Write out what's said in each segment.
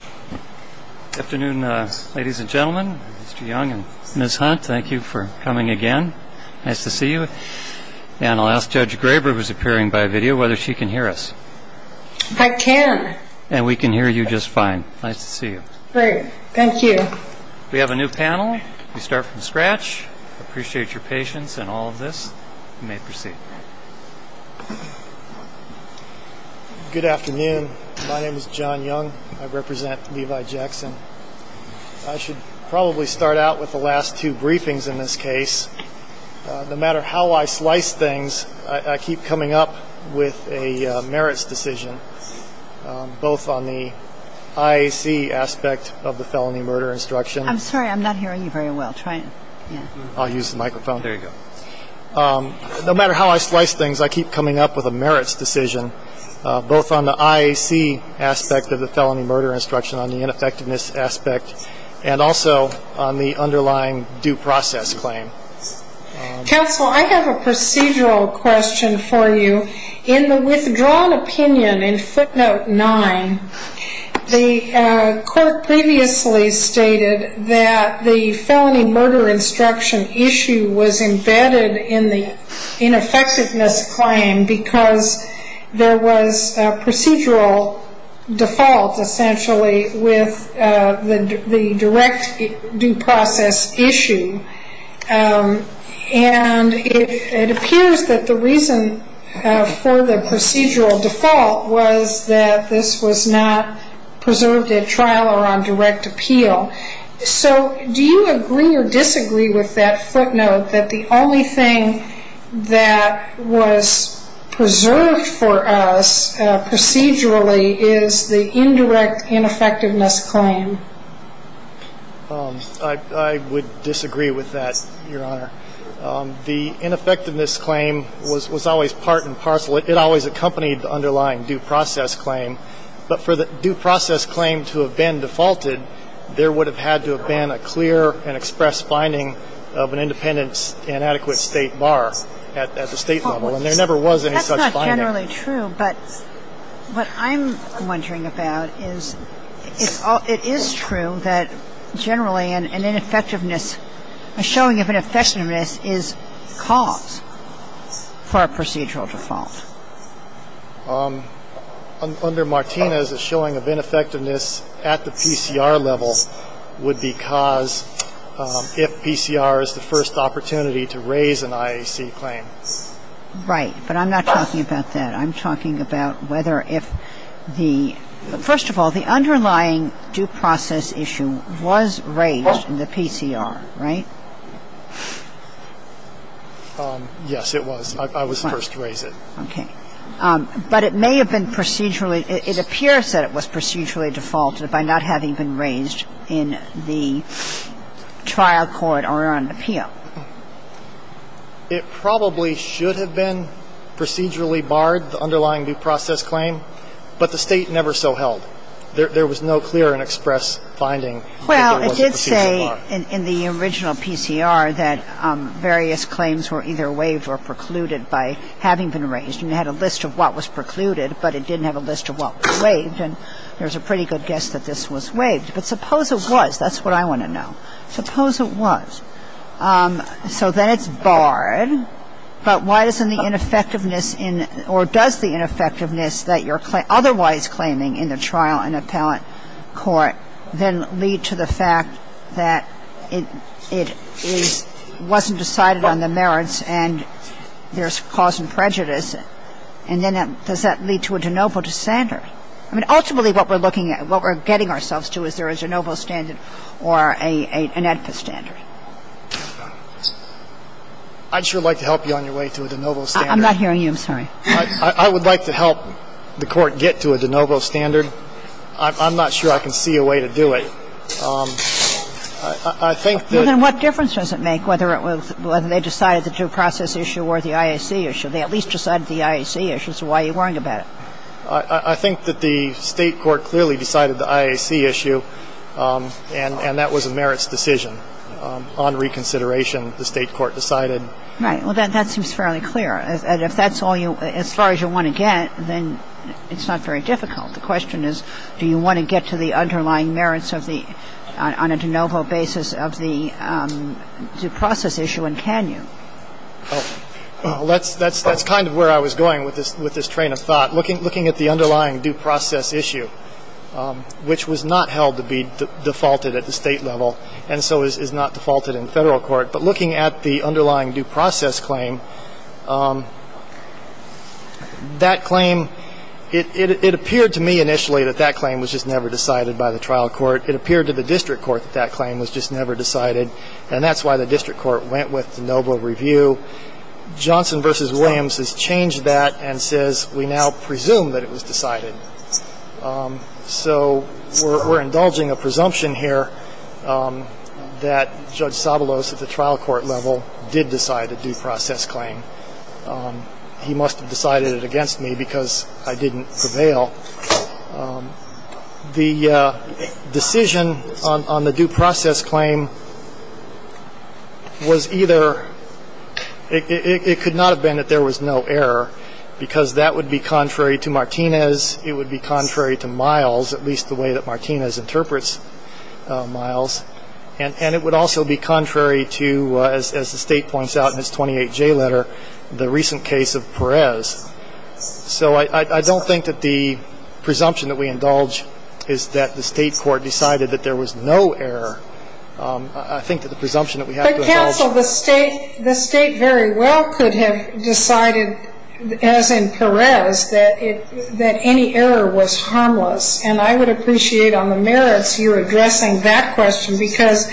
Good afternoon ladies and gentlemen, Mr. Young and Ms. Hunt. Thank you for coming again. Nice to see you. And I'll ask Judge Graber, who is appearing by video, whether she can hear us. I can. And we can hear you just fine. Nice to see you. Great. Thank you. We have a new panel. We start from scratch. I appreciate your patience in all of this. You may proceed. Good afternoon. My name is John Young. I represent Levi Jackson. I should probably start out with the last two briefings in this case. No matter how I slice things, I keep coming up with a merits decision, both on the IAC aspect of the felony murder instruction. I'm sorry. I'm not hearing you very well. Try again. I'll use the microphone. There you go. No matter how I slice things, I keep coming up with a merits decision, both on the IAC aspect of the felony murder instruction, on the ineffectiveness aspect, and also on the underlying due process claim. Counsel, I have a procedural question for you. In the withdrawn opinion in footnote 9, the court previously stated that the felony murder instruction issue was embedded in the ineffectiveness claim because there was a procedural default, essentially, with the direct due process issue. And it appears that the reason for the procedural default was that this was not preserved at trial or on direct appeal. So do you agree or disagree with that footnote, that the only thing that was preserved for us procedurally is the indirect ineffectiveness claim? I would disagree with that, Your Honor. The ineffectiveness claim was always part and parcel. It always accompanied the underlying due process claim. But for the due process claim to have been defaulted, there would have had to have been a clear and expressed finding of an independent and adequate State bar at the State level. And there never was any such finding. It's generally true, but what I'm wondering about is it is true that generally an ineffectiveness, a showing of ineffectiveness is cause for a procedural default. Under Martinez, a showing of ineffectiveness at the PCR level would be cause if PCR is the first opportunity to raise an IAC claim. And I'm not talking about that. I'm talking about whether if the — first of all, the underlying due process issue was raised in the PCR, right? Yes, it was. I was the first to raise it. Okay. But it may have been procedurally — it appears that it was procedurally defaulted by not having been raised in the trial court or on appeal. It probably should have been procedurally barred, the underlying due process claim, but the State never so held. There was no clear and expressed finding that there was a procedural bar. Well, it did say in the original PCR that various claims were either waived or precluded by having been raised. And it had a list of what was precluded, but it didn't have a list of what was waived. And there's a pretty good guess that this was waived. But suppose it was. That's what I want to know. Suppose it was. So then it's barred. But why doesn't the ineffectiveness in — or does the ineffectiveness that you're otherwise claiming in the trial and appellate court then lead to the fact that it is — wasn't decided on the merits and there's cause and prejudice? And then does that lead to a de novo standard? I mean, ultimately what we're looking at, what we're getting ourselves to, is there is a de novo standard or an edpa standard. I'd sure like to help you on your way to a de novo standard. I'm not hearing you. I'm sorry. I would like to help the Court get to a de novo standard. I'm not sure I can see a way to do it. I think that — Well, then what difference does it make whether it was — whether they decided the due process issue or the IAC issue? They at least decided the IAC issue, so why are you worrying about it? I think that the State court clearly decided the IAC issue, and that was a merits decision. On reconsideration, the State court decided. Right. Well, that seems fairly clear. And if that's all you — as far as you want to get, then it's not very difficult. The question is, do you want to get to the underlying merits of the — on a de novo basis of the due process issue, and can you? Well, that's kind of where I was going with this train of thought. Looking at the underlying due process issue, which was not held to be defaulted at the State level and so is not defaulted in Federal court, but looking at the underlying due process claim, that claim — it appeared to me initially that that claim was just never decided by the trial court. It appeared to the district court that that claim was just never decided, and that's why the district court went with de novo review. Johnson v. Williams has changed that and says we now presume that it was decided. So we're indulging a presumption here that Judge Sabalos at the trial court level did decide a due process claim. He must have decided it against me because I didn't prevail. The decision on the due process claim was either — it could not have been that there was no error because that would be contrary to Martinez. It would be contrary to Miles, at least the way that Martinez interprets Miles. And it would also be contrary to, as the State points out in its 28J letter, the recent case of Perez. So I don't think that the presumption that we indulge is that the State court decided that there was no error. I think that the presumption that we have to indulge — But, counsel, the State very well could have decided, as in Perez, that any error was harmless. And I would appreciate on the merits you addressing that question because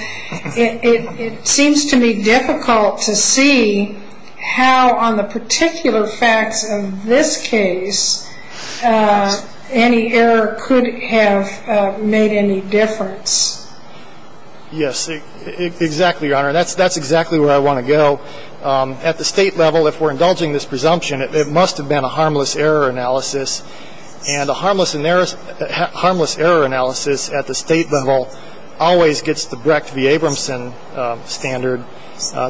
it seems to me difficult to see how on the particular facts of this case any error could have made any difference. Yes. Exactly, Your Honor. That's exactly where I want to go. At the State level, if we're indulging this presumption, it must have been a harmless error analysis. And a harmless error analysis at the State level always gets the Brecht v. Abramson standard.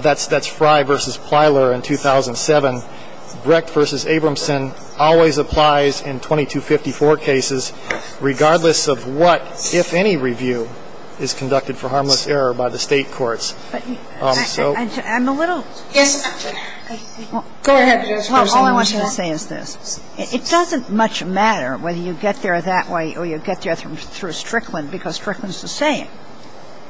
That's Frye v. Plyler in 2007. Brecht v. Abramson always applies in 2254 cases regardless of what, if any, review is conducted for harmless error by the State courts. So — I'm a little — Yes. Go ahead. Well, all I wanted to say is this. It doesn't much matter whether you get there that way or you get there through Strickland because Strickland is the same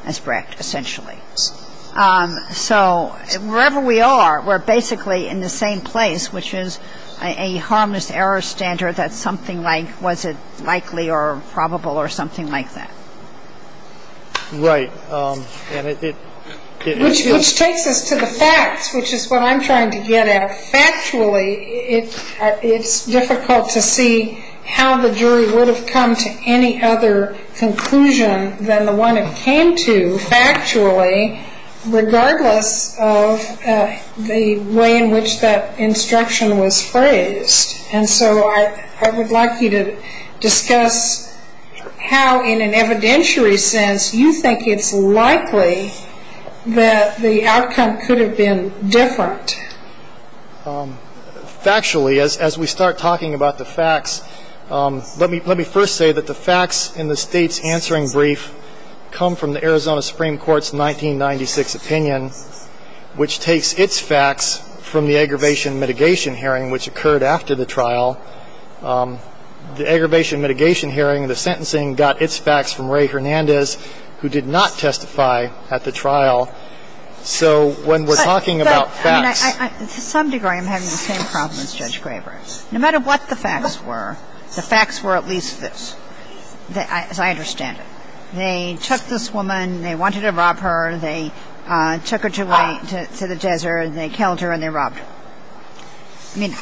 as Brecht, essentially. So wherever we are, we're basically in the same place, which is a harmless error standard that's something like, was it likely or probable or something like that. Right. Which takes us to the facts, which is what I'm trying to get at. Factually, it's difficult to see how the jury would have come to any other conclusion than the one it came to, factually, regardless of the way in which that instruction was phrased. And so I would like you to discuss how, in an evidentiary sense, you think it's likely that the outcome could have been different. Factually, as we start talking about the facts, let me first say that the facts in the State's answering brief come from the Arizona Supreme Court's 1996 opinion, which takes its facts from the aggravation mitigation hearing, which occurred after the trial. The aggravation mitigation hearing, the sentencing, got its facts from Ray Hernandez, who did not testify at the trial. So when we're talking about facts — But, I mean, to some degree, I'm having the same problem as Judge Graber. No matter what the facts were, the facts were at least this, as I understand it. They took this woman. They wanted to rob her. They took her to the desert, and they killed her, and they robbed her. I mean,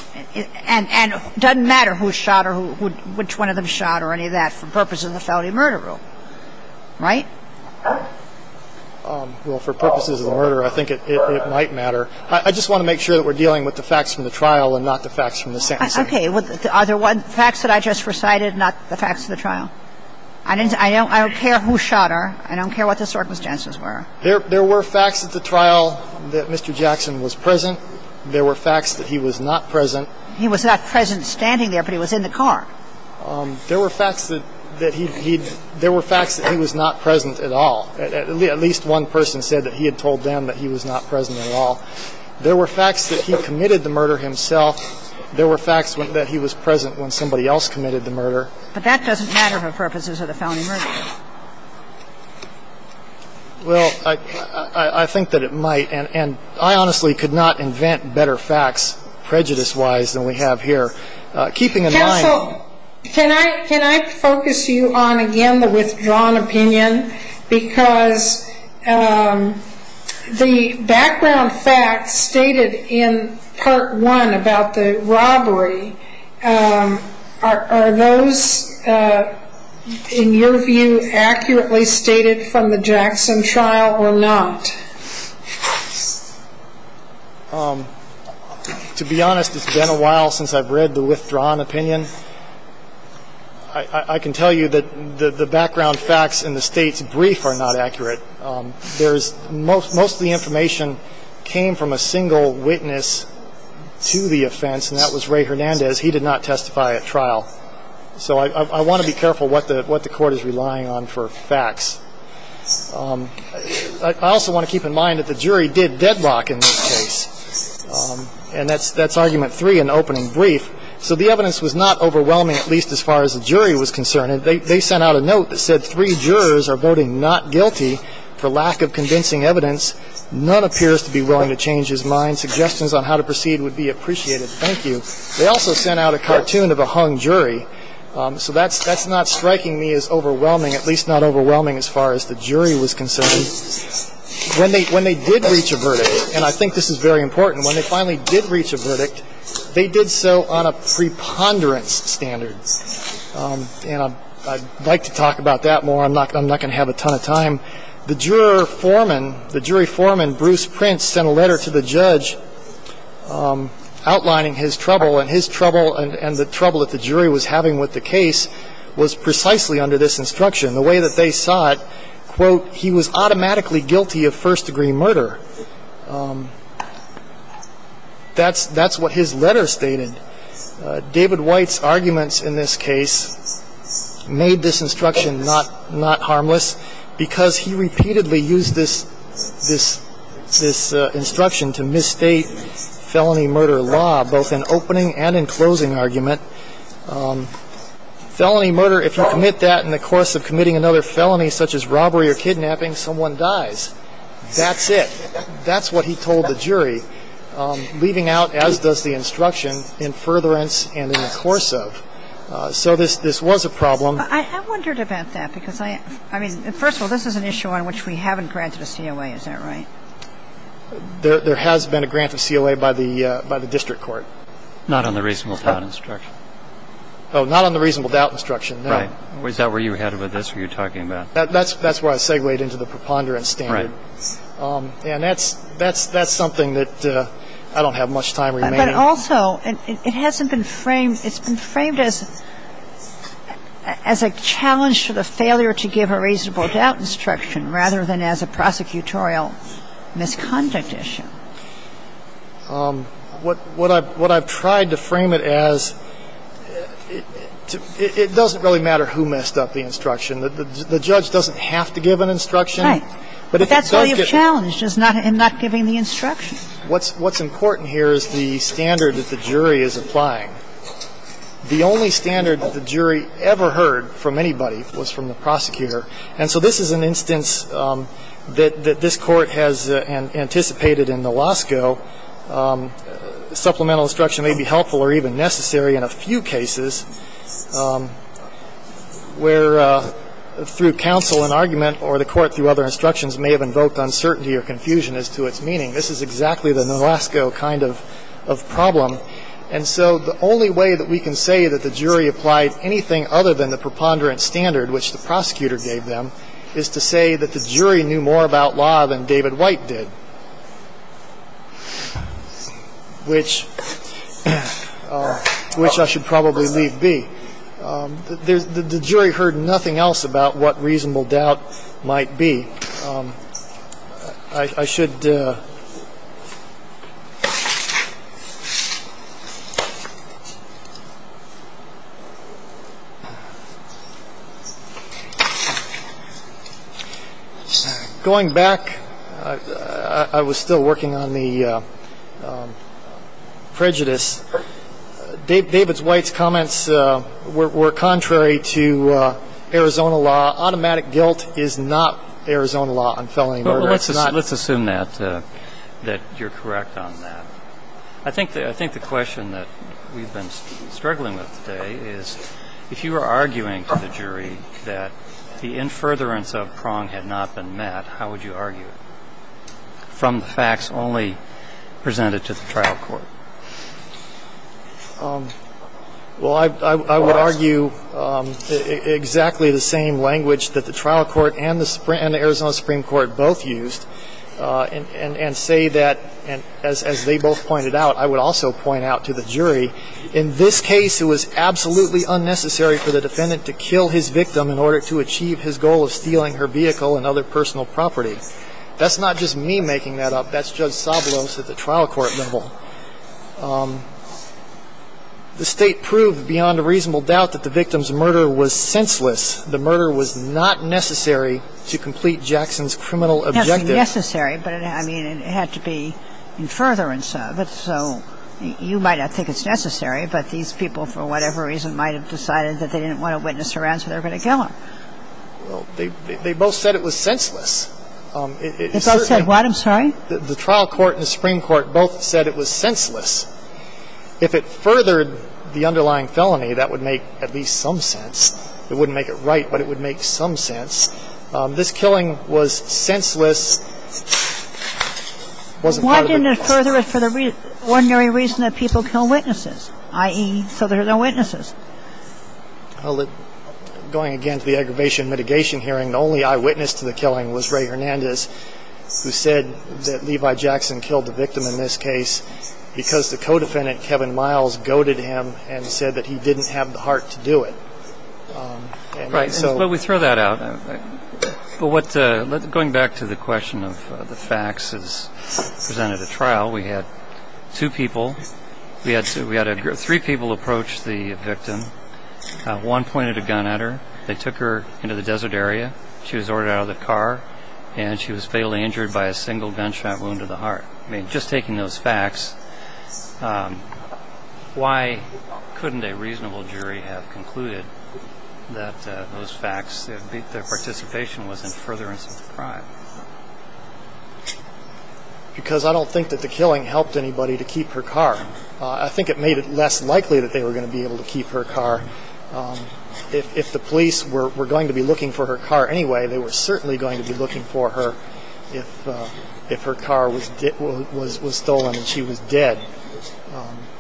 and it doesn't matter who shot her, which one of them shot her, or any of that, for purposes of the felony murder rule. Right? Well, for purposes of the murder, I think it might matter. I just want to make sure that we're dealing with the facts from the trial and not the facts from the sentencing. Okay. Are there facts that I just recited, not the facts of the trial? No. I don't care who shot her. I don't care what the circumstances were. There were facts at the trial that Mr. Jackson was present. There were facts that he was not present. He was not present standing there, but he was in the car. There were facts that he'd — there were facts that he was not present at all. At least one person said that he had told them that he was not present at all. There were facts that he committed the murder himself. There were facts that he was present when somebody else committed the murder. But that doesn't matter for purposes of the felony murder rule. Well, I think that it might. And I honestly could not invent better facts prejudice-wise than we have here. Keeping in mind — Counsel, can I — can I focus you on, again, the withdrawn opinion? Because the background facts stated in Part 1 about the robbery, are those, in your view, accurately stated from the Jackson trial or not? To be honest, it's been a while since I've read the withdrawn opinion. I can tell you that the background facts in the State's brief are not accurate. Most of the information came from a single witness to the offense, and that was Ray Hernandez. He did not testify at trial. So I want to be careful what the Court is relying on for facts. I also want to keep in mind that the jury did deadlock in this case. And that's Argument 3 in opening brief. So the evidence was not overwhelming, at least as far as the jury was concerned. They sent out a note that said, Three jurors are voting not guilty for lack of convincing evidence. None appears to be willing to change his mind. Suggestions on how to proceed would be appreciated. Thank you. They also sent out a cartoon of a hung jury. So that's not striking me as overwhelming, at least not overwhelming as far as the jury was concerned. When they did reach a verdict, and I think this is very important, when they finally did reach a verdict, they did so on a preponderance standard. And I'd like to talk about that more. I'm not going to have a ton of time. The jury foreman, Bruce Prince, sent a letter to the judge outlining his trouble, and his trouble and the trouble that the jury was having with the case was precisely under this instruction. The way that they saw it, quote, he was automatically guilty of first-degree murder. That's what his letter stated. David White's arguments in this case made this instruction not harmless, because he repeatedly used this instruction to misstate felony murder law, both in opening and in closing argument. And he said, quote, both in opening and in closing argument. Felony murder, if you commit that in the course of committing another felony, such as robbery or kidnapping, someone dies. That's it. That's what he told the jury, leaving out, as does the instruction, in furtherance and in the course of. So this was a problem. I wondered about that, because I mean, first of all, this is an issue on which we haven't granted a COA, is that right? There has been a grant of COA by the district court. Not on the reasonable doubt instruction. Oh, not on the reasonable doubt instruction. Right. Is that where you're headed with this, what you're talking about? That's where I segwayed into the preponderance standard. Right. And that's something that I don't have much time remaining. But also, it hasn't been framed. It's been framed as a challenge to the failure to give a reasonable doubt instruction rather than as a prosecutorial misconduct issue. What I've tried to frame it as, it doesn't really matter who messed up the instruction. The judge doesn't have to give an instruction. Right. But that's where you're challenged, is not giving the instruction. What's important here is the standard that the jury is applying. The only standard that the jury ever heard from anybody was from the prosecutor. And so this is an instance that this court has anticipated in the Losco. Supplemental instruction may be helpful or even necessary in a few cases where, through counsel and argument or the court through other instructions, may have invoked uncertainty or confusion as to its meaning. This is exactly the Losco kind of problem. And so the only way that we can say that the jury applied anything other than the preponderance standard, which the prosecutor gave them, is to say that the jury knew more about law than David White did, which I should probably leave be. The jury heard nothing else about what reasonable doubt might be. I should. Going back, I was still working on the prejudice. David White's comments were contrary to Arizona law. Automatic guilt is not Arizona law on felony murder. Well, let's assume that you're correct on that. I think the question that we've been struggling with today is, if you were arguing to the jury that the in furtherance of Prong had not been met, how would you argue it from the facts only presented to the trial court? Well, I would argue exactly the same language that the trial court and the Arizona Supreme Court both used and say that, as they both pointed out, I would also point out to the jury, in this case it was absolutely unnecessary for the defendant to kill his victim in order to achieve his goal of stealing her vehicle and other personal property. That's not just me making that up. That's Judge Sablos at the trial court level. The State proved beyond a reasonable doubt that the victim's murder was senseless. The murder was not necessary to complete Jackson's criminal objective. It had to be necessary, but, I mean, it had to be in furtherance of it. So you might not think it's necessary, but these people for whatever reason might have decided that they didn't want to witness her answer, they're going to kill her. Well, they both said it was senseless. They both said what? I'm sorry? The trial court and the Supreme Court both said it was senseless. If it furthered the underlying felony, that would make at least some sense. It wouldn't make it right, but it would make some sense. This killing was senseless. Why didn't it further it for the ordinary reason that people kill witnesses, i.e., so there are no witnesses? Well, going again to the aggravation mitigation hearing, the only eyewitness to the killing was Ray Hernandez, who said that Levi Jackson killed the victim in this case because the co-defendant, Kevin Miles, goaded him and said that he didn't have the heart to do it. Right. But we throw that out. But going back to the question of the facts as presented at trial, we had two people. We had three people approach the victim. One pointed a gun at her. They took her into the desert area. She was ordered out of the car, and she was fatally injured by a single gunshot wound to the heart. I mean, just taking those facts, why couldn't a reasonable jury have concluded that those facts, that their participation was in furtherance of the crime? Because I don't think that the killing helped anybody to keep her car. I think it made it less likely that they were going to be able to keep her car. If the police were going to be looking for her car anyway, they were certainly going to be looking for her if her car was stolen and she was dead.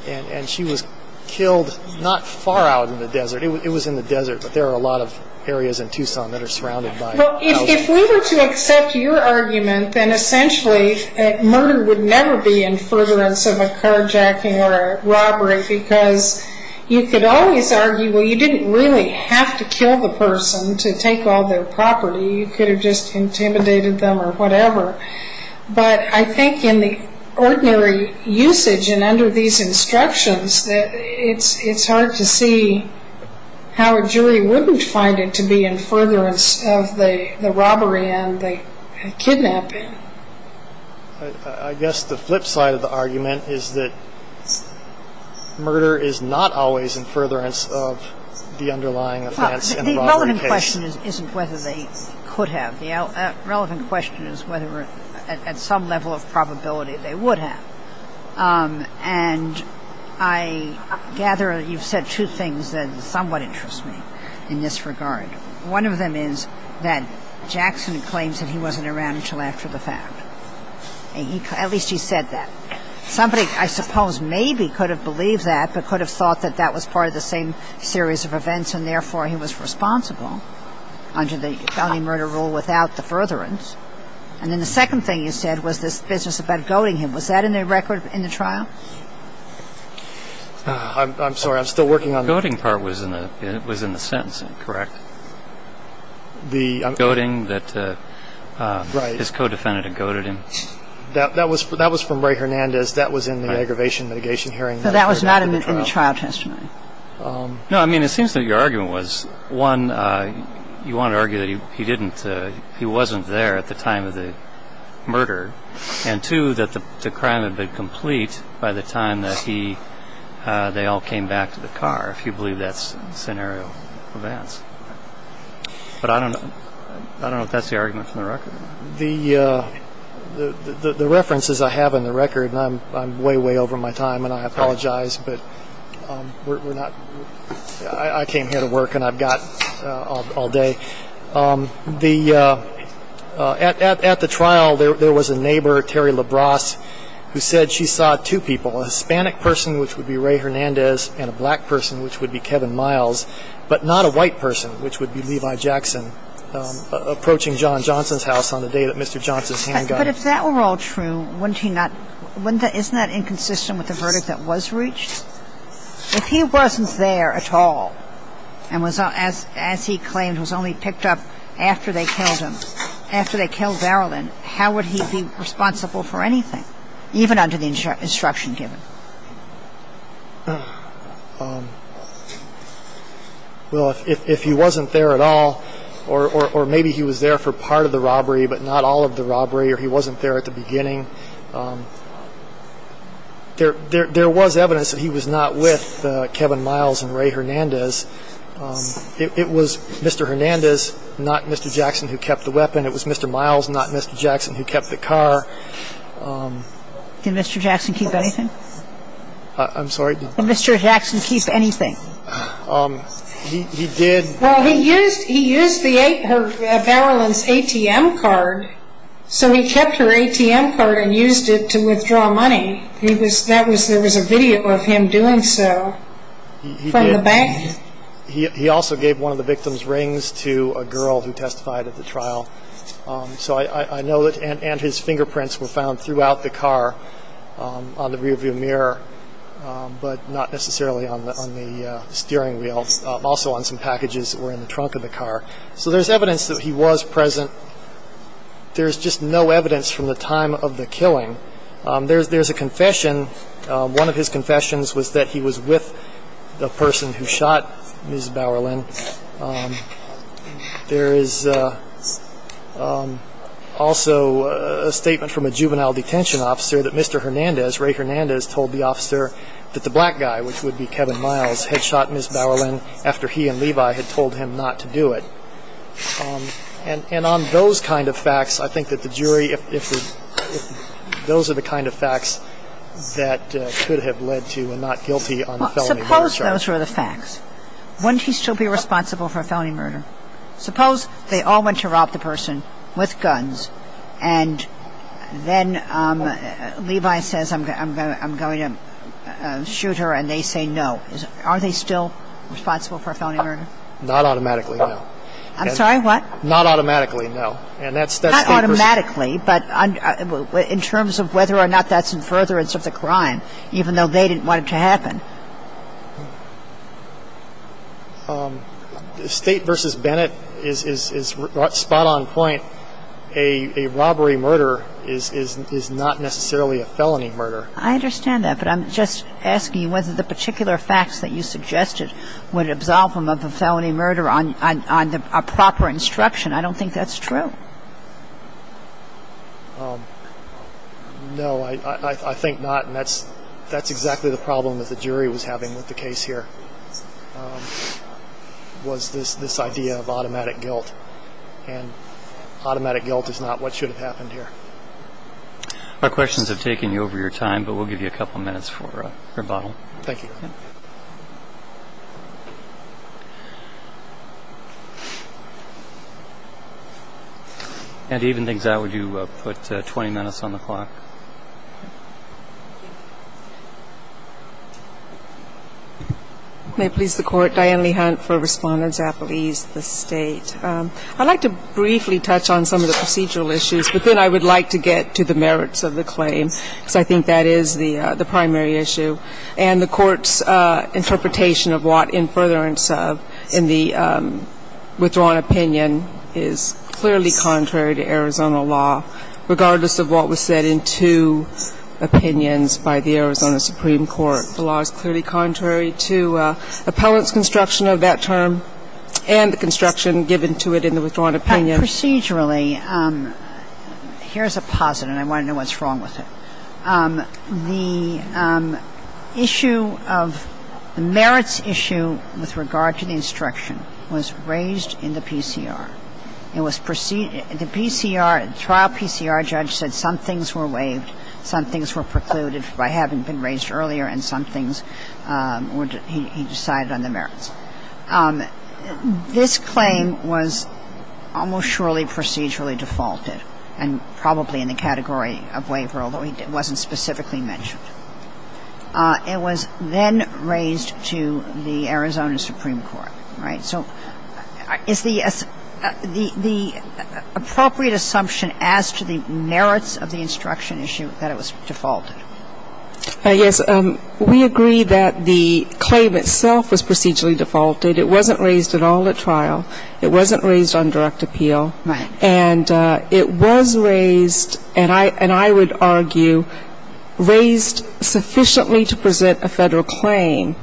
And she was killed not far out in the desert. It was in the desert, but there are a lot of areas in Tucson that are surrounded by houses. Well, if we were to accept your argument, then essentially murder would never be in furtherance of a carjacking or a robbery because you could always argue, well, you didn't really have to kill the person to take all their property. You could have just intimidated them or whatever. But I think in the ordinary usage and under these instructions, it's hard to see how a jury wouldn't find it to be in furtherance of the robbery and the kidnapping. I guess the flip side of the argument is that murder is not always in furtherance of the underlying offense and robbery case. Well, the relevant question isn't whether they could have. The relevant question is whether at some level of probability they would have. And I gather you've said two things that somewhat interest me in this regard. One of them is that Jackson claims that he wasn't around until after the fact. At least he said that. Somebody, I suppose, maybe could have believed that but could have thought that that was part of the same series of events and therefore he was responsible under the felony murder rule without the furtherance. And then the second thing you said was this business about goading him. Was that in the record in the trial? I'm sorry. I'm still working on it. The goading part was in the sentencing, correct? Goading that his co-defendant had goaded him? That was from Ray Hernandez. That was in the aggravation mitigation hearing. So that was not in the trial testimony? No. I mean, it seems that your argument was, one, you want to argue that he wasn't there at the time of the murder and, two, that the crime had been complete by the time that they all came back to the car, if you believe that scenario of events. But I don't know if that's the argument from the record. The references I have in the record, and I'm way, way over my time and I apologize, but I came here to work and I've got all day. At the trial, there was a neighbor, Terry Labrosse, who said she saw two people, a Hispanic person, which would be Ray Hernandez, and a black person, which would be Kevin Miles, but not a white person, which would be Levi Jackson, approaching John Johnson's house on the day that Mr. Johnson's hand got hit. But if that were all true, wouldn't he not ‑‑ isn't that inconsistent with the verdict that was reached? If he wasn't there at all and, as he claimed, was only picked up after they killed him, after they killed Darylin, how would he be responsible for anything, even under the instruction given? Well, if he wasn't there at all, or maybe he was there for part of the robbery, but not all of the robbery, or he wasn't there at the beginning, there was evidence that he was not with Kevin Miles and Ray Hernandez. It was Mr. Hernandez, not Mr. Jackson, who kept the weapon. It was Mr. Miles, not Mr. Jackson, who kept the car. Did Mr. Jackson keep anything? I'm sorry? Did Mr. Jackson keep anything? He did. Well, he used Darylin's ATM card, so he kept her ATM card and used it to withdraw money. There was a video of him doing so from the bank. He also gave one of the victim's rings to a girl who testified at the trial. So I know that ‑‑ and his fingerprints were found throughout the car on the rearview mirror, but not necessarily on the steering wheel. Also on some packages that were in the trunk of the car. So there's evidence that he was present. There's just no evidence from the time of the killing. There's a confession. One of his confessions was that he was with the person who shot Ms. Bauerlin. There is also a statement from a juvenile detention officer that Mr. Hernandez, Ray Hernandez, told the officer that the black guy, which would be Kevin Miles, had shot Ms. Bauerlin after he and Levi had told him not to do it. And on those kind of facts, I think that the jury, if the ‑‑ those are the kind of facts that could have led to a not guilty on the felony murder charge. Suppose those were the facts. Wouldn't he still be responsible for a felony murder? Suppose they all went to rob the person with guns, and then Levi says, I'm going to shoot her, and they say no. Are they still responsible for a felony murder? Not automatically, no. I'm sorry, what? Not automatically, no. Not automatically, but in terms of whether or not that's in furtherance of the crime, even though they didn't want it to happen. State v. Bennett is spot on point. A robbery murder is not necessarily a felony murder. I understand that, but I'm just asking whether the particular facts that you suggested would absolve him of a felony murder on a proper instruction. I don't think that's true. No, I think not. That's exactly the problem that the jury was having with the case here, was this idea of automatic guilt, and automatic guilt is not what should have happened here. Our questions have taken you over your time, but we'll give you a couple minutes for a rebuttal. Thank you. And even things out, would you put 20 minutes on the clock? May it please the Court, Diane Lee Hunt for Respondents, Apple East, the State. I'd like to briefly touch on some of the procedural issues, but then I would like to get to the merits of the claim, because I think that is the primary issue. And the Court's interpretation of what in furtherance of in the withdrawn opinion is clearly contrary to Arizona law, regardless of what was said in two opinions by the Arizona Supreme Court. The law is clearly contrary to appellant's construction of that term and the construction given to it in the withdrawn opinion. Procedurally, here's a posit, and I want to know what's wrong with it. The issue of the merits issue with regard to the instruction was raised in the PCR. It was preceded, the PCR, the trial PCR judge said some things were waived, some things were precluded by having been raised earlier, and some things he decided on the merits. This claim was almost surely procedurally defaulted and probably in the category of waiver, although it wasn't specifically mentioned. It was then raised to the Arizona Supreme Court, right? So is the appropriate assumption as to the merits of the instruction issue that it was defaulted? Yes. We agree that the claim itself was procedurally defaulted. It wasn't raised at all at trial. It wasn't raised on direct appeal. Right. And it was raised, and I would argue raised sufficiently to present a Federal claim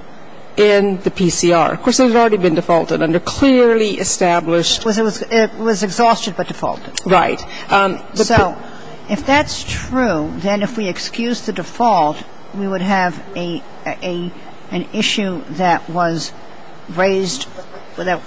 in the PCR. Of course, it had already been defaulted under clearly established. It was exhausted but defaulted. Right. So if that's true, then if we excuse the default, we would have an issue that was raised that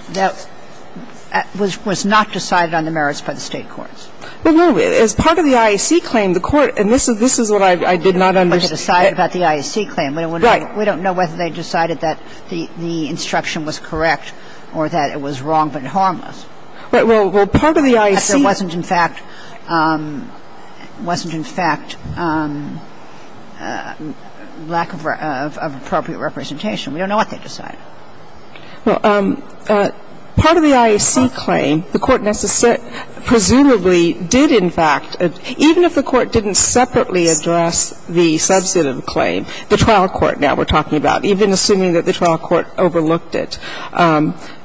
was not decided on the merits by the State courts. Well, no. As part of the IAC claim, the Court, and this is what I did not understand. But they decided about the IAC claim. Right. We don't know whether they decided that the instruction was correct or that it was wrong but harmless. Well, part of the IAC. But there wasn't, in fact, wasn't, in fact, lack of appropriate representation. We don't know what they decided. Well, part of the IAC claim, the Court presumably did, in fact, even if the Court didn't separately address the substantive claim, the trial court now we're talking about, even assuming that the trial court overlooked it.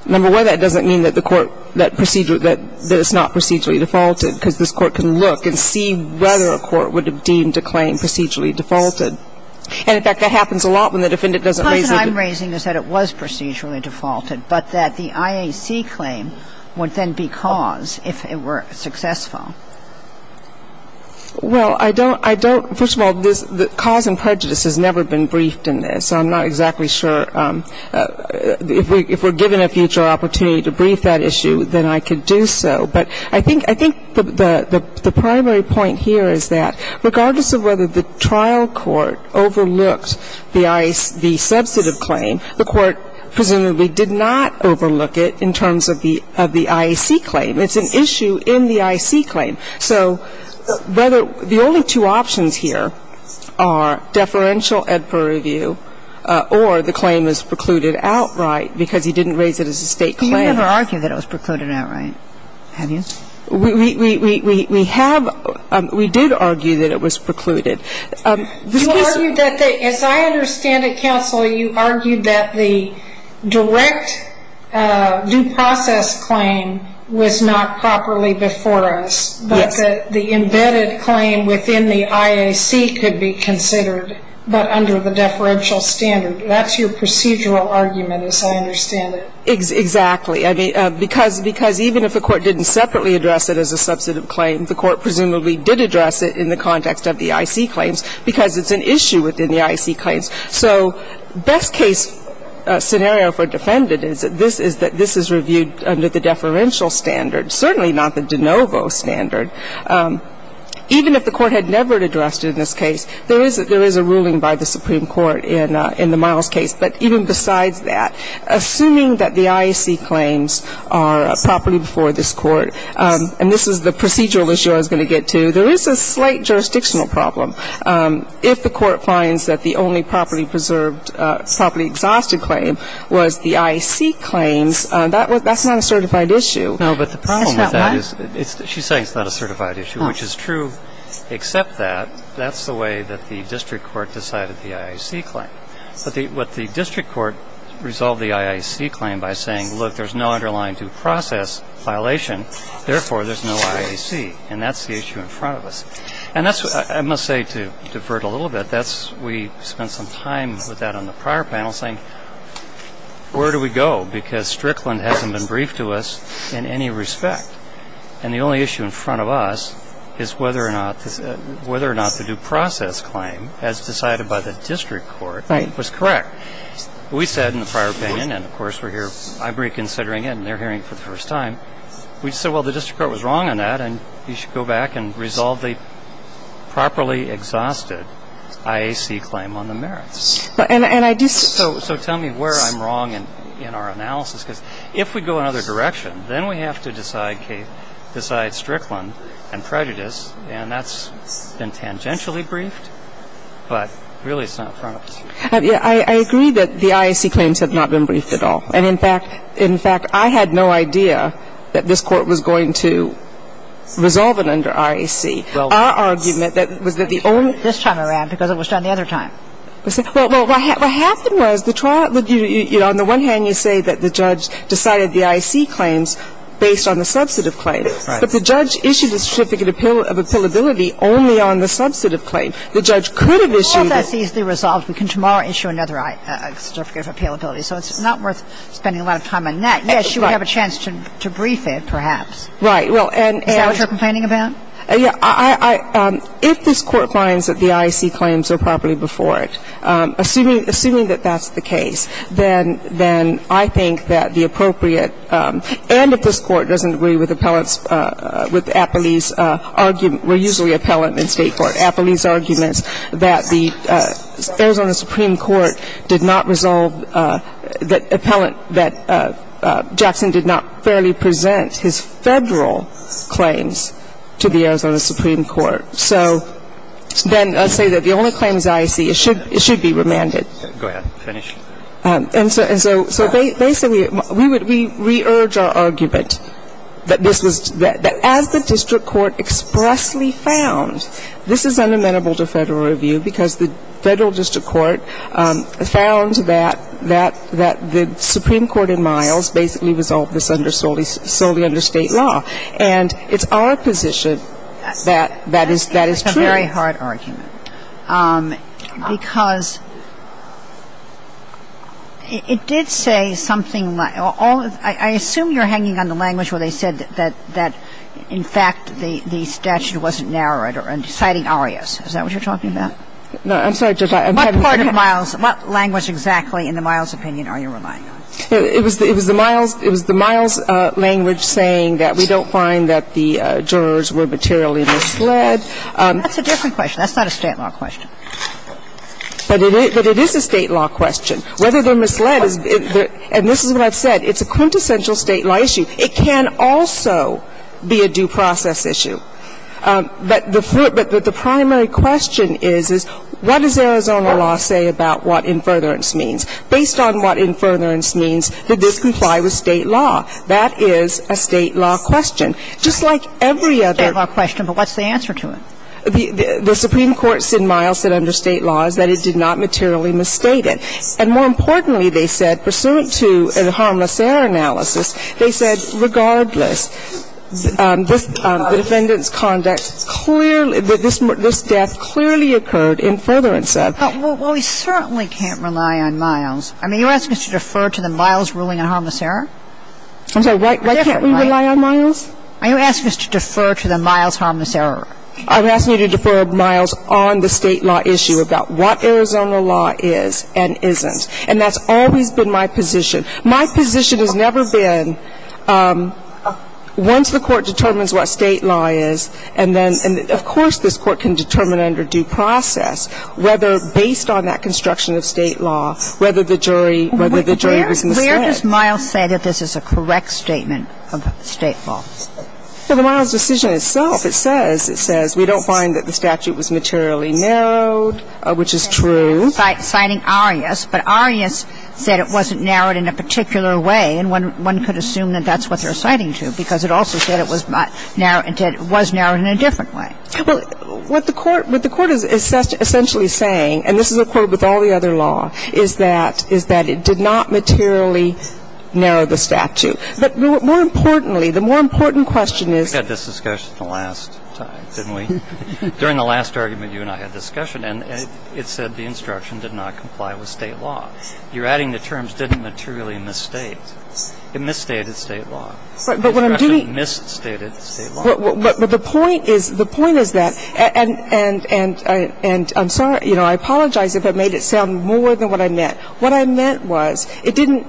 Number one, that doesn't mean that the Court, that it's not procedurally defaulted because this Court can look and see whether a court would have deemed a claim procedurally defaulted. And in fact, that happens a lot when the defendant doesn't raise it. So the question is that it was procedurally defaulted, but that the IAC claim would then be cause if it were successful. Well, I don't ‑‑ I don't ‑‑ first of all, the cause and prejudice has never been briefed in this, so I'm not exactly sure. If we're given a future opportunity to brief that issue, then I could do so. But I think the primary point here is that regardless of whether the trial court overlooked the IAC ‑‑ the substantive claim, the Court presumably did not overlook it in terms of the IAC claim. It's an issue in the IAC claim. So whether ‑‑ the only two options here are deferential ed for review or the claim is precluded outright because he didn't raise it as a State claim. But you never argued that it was precluded outright, have you? We have ‑‑ we did argue that it was precluded. You argued that the ‑‑ as I understand it, Counsel, you argued that the direct due process claim was not properly before us. Yes. But the embedded claim within the IAC could be considered, but under the deferential standard. That's your procedural argument, as I understand it. Exactly. I mean, because even if the Court didn't separately address it as a substantive claim, the Court presumably did address it in the context of the IAC claims because it's an issue within the IAC claims. So best case scenario for defendant is that this is ‑‑ that this is reviewed under the deferential standard, certainly not the de novo standard. Even if the Court had never addressed it in this case, there is a ruling by the Supreme Court in the Miles case. But even besides that, assuming that the IAC claims are properly before this Court and this is the procedural issue I was going to get to, there is a slight jurisdictional problem. If the Court finds that the only properly preserved, properly exhausted claim was the IAC claims, that's not a certified issue. No, but the problem with that is ‑‑ It's not what? She's saying it's not a certified issue, which is true, except that that's the way that the district court decided the IAC claim. What the district court resolved the IAC claim by saying, look, there's no underlying due process violation, therefore, there's no IAC. And that's the issue in front of us. And that's ‑‑ I must say to defer it a little bit, that's ‑‑ we spent some time with that on the prior panel saying, where do we go? Because Strickland hasn't been briefed to us in any respect. And the only issue in front of us is whether or not ‑‑ whether or not the due process claim, as decided by the district court, was correct. We said in the prior opinion, and, of course, we're here ‑‑ I'm reconsidering it, and they're hearing it for the first time. We said, well, the district court was wrong on that, and you should go back and resolve the properly exhausted IAC claim on the merits. And I just ‑‑ So tell me where I'm wrong in our analysis. Because if we go another direction, then we have to decide Strickland and prejudice, and that's been tangentially briefed, but really it's not in front of us. I agree that the IAC claims have not been briefed at all. And, in fact, I had no idea that this Court was going to resolve it under IAC. Our argument was that the only ‑‑ This time around, because it was done the other time. Well, what happened was the trial ‑‑ on the one hand, you say that the judge decided the IAC claims based on the substantive claim. Right. But the judge issued a certificate of appealability only on the substantive claim. The judge could have issued ‑‑ Well, that's easily resolved. We can tomorrow issue another certificate of appealability. So it's not worth spending a lot of time on that. Yes, you would have a chance to brief it, perhaps. Right. Well, and ‑‑ Is that what you're complaining about? Yeah. If this Court finds that the IAC claims are properly before it, assuming that that's the case, then I think that the appropriate ‑‑ and if this Court doesn't agree with appellate's ‑‑ with Appley's argument, we're usually appellate in State Supreme Court, Appley's argument, that the Arizona Supreme Court did not resolve that appellate, that Jackson did not fairly present his Federal claims to the Arizona Supreme Court. So then I say that the only claims I see, it should be remanded. Go ahead. Finish. And so basically, we would ‑‑ we re‑urge our argument that this was ‑‑ that as the district court expressly found, this is unamendable to Federal review because the Federal district court found that the Supreme Court in Miles basically resolved this solely under State law. And it's our position that that is true. That is a very hard argument. Because it did say something ‑‑ I assume you're hanging on the language where they said that, in fact, the statute wasn't narrowed or deciding arias. Is that what you're talking about? No. I'm sorry, Judge. My part of Miles ‑‑ what language exactly in the Miles opinion are you relying on? It was the Miles language saying that we don't find that the jurors were materially misled. That's a different question. That's not a State law question. But it is a State law question. Whether they're misled is ‑‑ and this is what I've said. It's a quintessential State law issue. It can also be a due process issue. But the primary question is, is what does Arizona law say about what in furtherance means? Based on what in furtherance means, did this comply with State law? That is a State law question. Just like every other ‑‑ It's a State law question, but what's the answer to it? The Supreme Court said Miles said under State law is that it did not materially misstate it. And more importantly, they said, pursuant to a harmless error analysis, they said regardless, this defendant's conduct clearly ‑‑ this death clearly occurred in furtherance of. Well, we certainly can't rely on Miles. I mean, are you asking us to defer to the Miles ruling on harmless error? I'm sorry, why can't we rely on Miles? Are you asking us to defer to the Miles harmless error? I'm asking you to defer Miles on the State law issue about what Arizona law is and isn't. And that's always been my position. My position has never been once the Court determines what State law is, and then of course this Court can determine under due process whether, based on that construction of State law, whether the jury was misled. Where does Miles say that this is a correct statement of State law? Well, the Miles decision itself, it says, it says we don't find that the statute was materially narrowed, which is true. Citing Arias, but Arias said it wasn't narrowed in a particular way, and one could assume that that's what they're citing to, because it also said it was narrowed in a different way. Well, what the Court is essentially saying, and this is a quote with all the other law, is that it did not materially narrow the statute. But more importantly, the more important question is ‑‑ We had this discussion the last time, didn't we? During the last argument, you and I had a discussion, and it said the instruction did not comply with State law. You're adding the terms didn't materially misstate. It misstated State law. The instruction misstated State law. But the point is, the point is that, and I'm sorry, I apologize if I made it sound more than what I meant. What I meant was, it didn't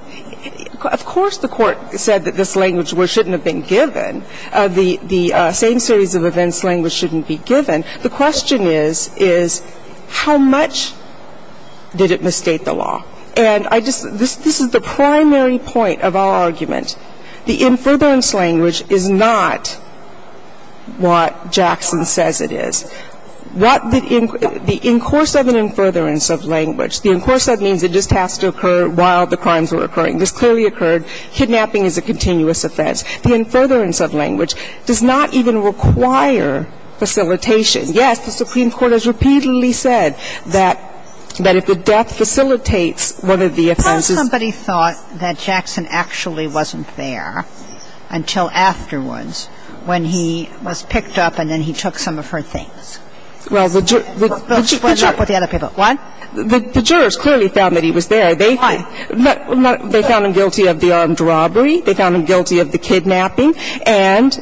‑‑ of course the Court said that this language shouldn't have been given. The same series of events language shouldn't be given. The question is, is how much did it misstate the law? And I just ‑‑ this is the primary point of our argument. The in furtherance language is not what Jackson says it is. What the ‑‑ the in course of an in furtherance of language, the in course of means it just has to occur while the crimes were occurring. This clearly occurred. Kidnapping is a continuous offense. The in furtherance of language does not even require facilitation. Yes, the Supreme Court has repeatedly said that if the death facilitates one of the offenses ‑‑ How somebody thought that Jackson actually wasn't there until afterwards when he was picked up and then he took some of her things? Well, the ‑‑ What about the other people? What? The jurors clearly found that he was there. Why? They found him guilty of the armed robbery. They found him guilty of the kidnapping. And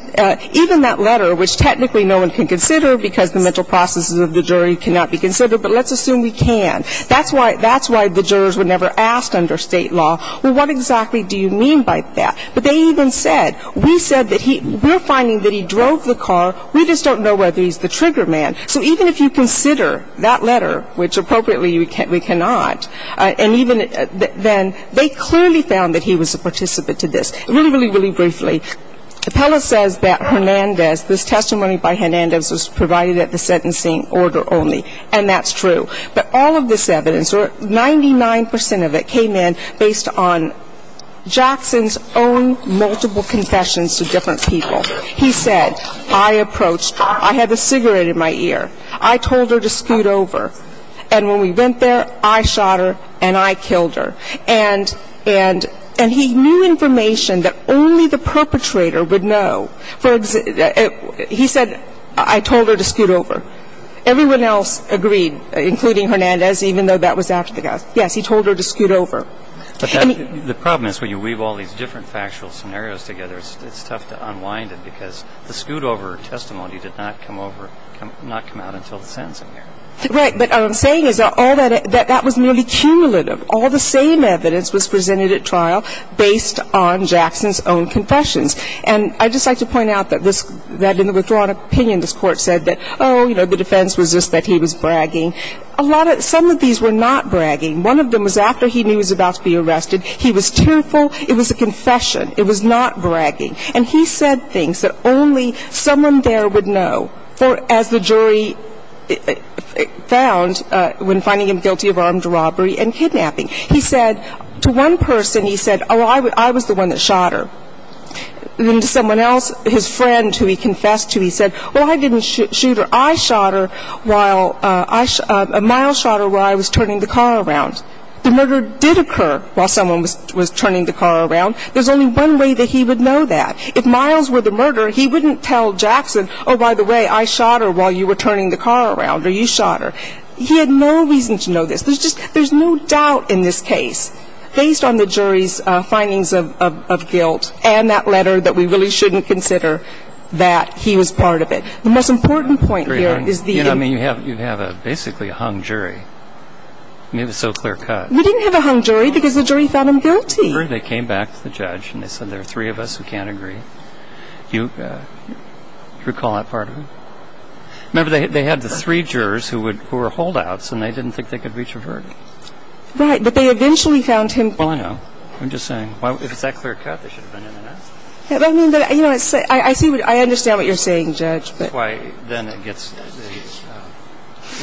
even that letter, which technically no one can consider because the mental processes of the jury cannot be considered, but let's assume we can. That's why ‑‑ that's why the jurors were never asked under state law, well, what exactly do you mean by that? But they even said, we said that he ‑‑ we're finding that he drove the car. We just don't know whether he's the trigger man. So even if you consider that letter, which appropriately we cannot, and even they clearly found that he was a participant to this. Really, really, really briefly, Appella says that Hernandez, this testimony by Hernandez was provided at the sentencing order only. And that's true. But all of this evidence, or 99% of it came in based on Jackson's own multiple confessions to different people. He said, I approached her. I had the cigarette in my ear. I told her to scoot over. And when we went there, I shot her and I killed her. And he knew information that only the perpetrator would know. He said, I told her to scoot over. Everyone else agreed, including Hernandez, even though that was after the death. Yes, he told her to scoot over. But the problem is when you weave all these different factual scenarios together, it's tough to unwind it because the scoot over testimony did not come over, did not come out until the sentencing hearing. Right. But what I'm saying is that all that, that was merely cumulative. All the same evidence was presented at trial based on Jackson's own confessions. And I'd just like to point out that this, that in the withdrawn opinion, this Court said that, oh, you know, the defense was just that he was bragging. A lot of, some of these were not bragging. One of them was after he knew he was about to be arrested. He was tearful. It was a confession. It was not bragging. And he said things that only someone there would know, as the jury found when finding him guilty of armed robbery and kidnapping. He said to one person, he said, oh, I was the one that shot her. And to someone else, his friend who he confessed to, he said, well, I didn't shoot her. I shot her while, a mile shot her while I was turning the car around. The murder did occur while someone was turning the car around. There's only one way that he would know that. If miles were the murderer, he wouldn't tell Jackson, oh, by the way, I shot her while you were turning the car around, or you shot her. He had no reason to know this. There's just, there's no doubt in this case, based on the jury's findings of guilt and that letter that we really shouldn't consider that he was part of it. The most important point here is the end. You know, I mean, you have, you have basically a hung jury. I mean, it was so clear cut. We didn't have a hung jury because the jury found him guilty. They came back to the judge and they said, there are three of us who can't agree. Do you recall that part of it? Remember, they had the three jurors who were holdouts and they didn't think they could reach a verdict. Right, but they eventually found him guilty. Well, I know. I'm just saying, if it's that clear cut, they should have been in and asked. But, I mean, you know, I see, I understand what you're saying, Judge. That's why then it gets,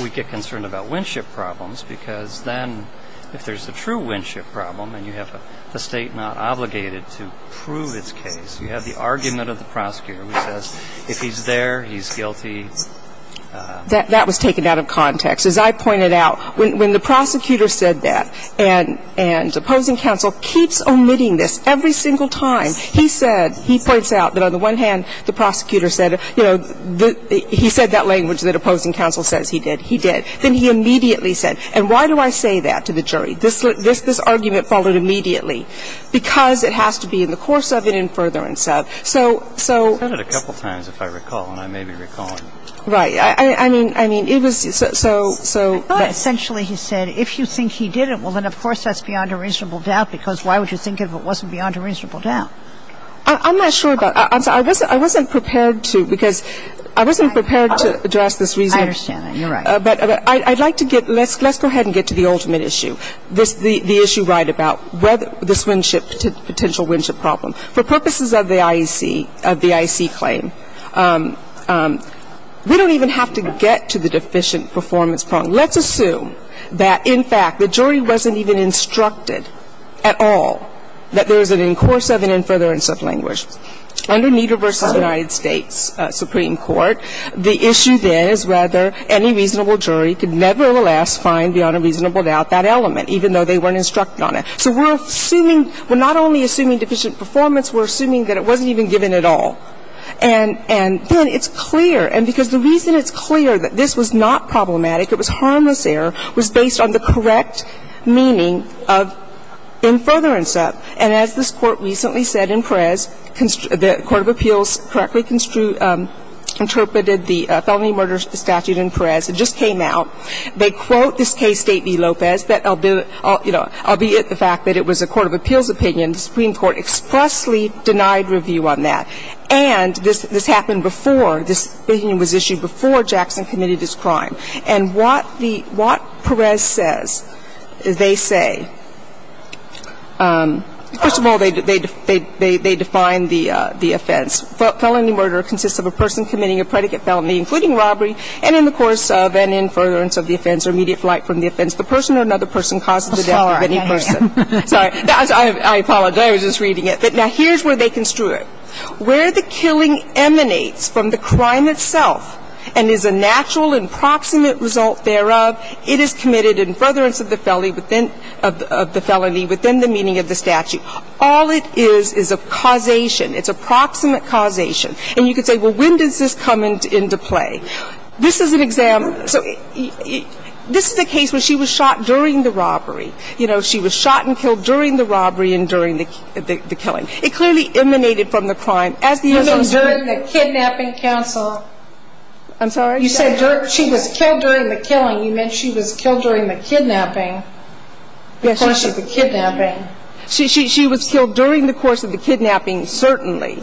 we get concerned about winship problems because then if there's a true winship problem and you have a State not obligated to prove its case, you have the argument of the prosecutor who says, if he's there, he's guilty. That was taken out of context. As I pointed out, when the prosecutor said that, and opposing counsel keeps omitting this every single time. He said, he points out that on the one hand, the prosecutor said, you know, he said that language that opposing counsel says he did. He did. Then he immediately said, and why do I say that to the jury? This argument followed immediately. Because it has to be in the course of it and further and so. So, so. He said it a couple times, if I recall, and I may be recalling. Right. I mean, I mean, it was so, so. But essentially he said, if you think he did it, well, then of course that's beyond a reasonable doubt because why would you think if it wasn't beyond a reasonable doubt? I'm not sure about that. I wasn't prepared to because I wasn't prepared to address this reason. I understand that. You're right. But I'd like to get, let's go ahead and get to the ultimate issue. The issue right about whether this winship, potential winship problem. For purposes of the IEC, of the IEC claim, we don't even have to get to the deficient performance problem. Let's assume that, in fact, the jury wasn't even instructed at all that there is an in course of and in furtherance of language. Under NIDA v. United States Supreme Court, the issue there is whether any reasonable jury could nevertheless find beyond a reasonable doubt that element, even though they weren't instructed on it. So we're assuming, we're not only assuming deficient performance, we're assuming that it wasn't even given at all. And then it's clear, and because the reason it's clear that this was not problematic, it was harmless error, was based on the correct meaning of in furtherance of. And as this Court recently said in Perez, the court of appeals correctly interpreted the felony murder statute in Perez. It just came out. They quote this case, State v. Lopez, that, you know, albeit the fact that it was a court of appeals opinion, the Supreme Court expressly denied review on that. And this happened before, this opinion was issued before Jackson committed his crime. And what Perez says, they say, first of all, they define the offense. Felony murder consists of a person committing a predicate felony, including robbery, and in the course of and in furtherance of the offense or immediate flight from the offense, the person or another person causes the death of any person. Sorry. I apologize. I was just reading it. But now here's where they construe it. Where the killing emanates from the crime itself and is a natural and proximate result thereof, it is committed in furtherance of the felony within the meaning of the statute. All it is is a causation. It's a proximate causation. And you could say, well, when does this come into play? This is an example. So this is a case where she was shot during the robbery. You know, she was shot and killed during the robbery and during the killing. It clearly emanated from the crime. Even during the kidnapping counsel? I'm sorry? You said she was killed during the killing. You meant she was killed during the kidnapping, the course of the kidnapping. She was killed during the course of the kidnapping, certainly.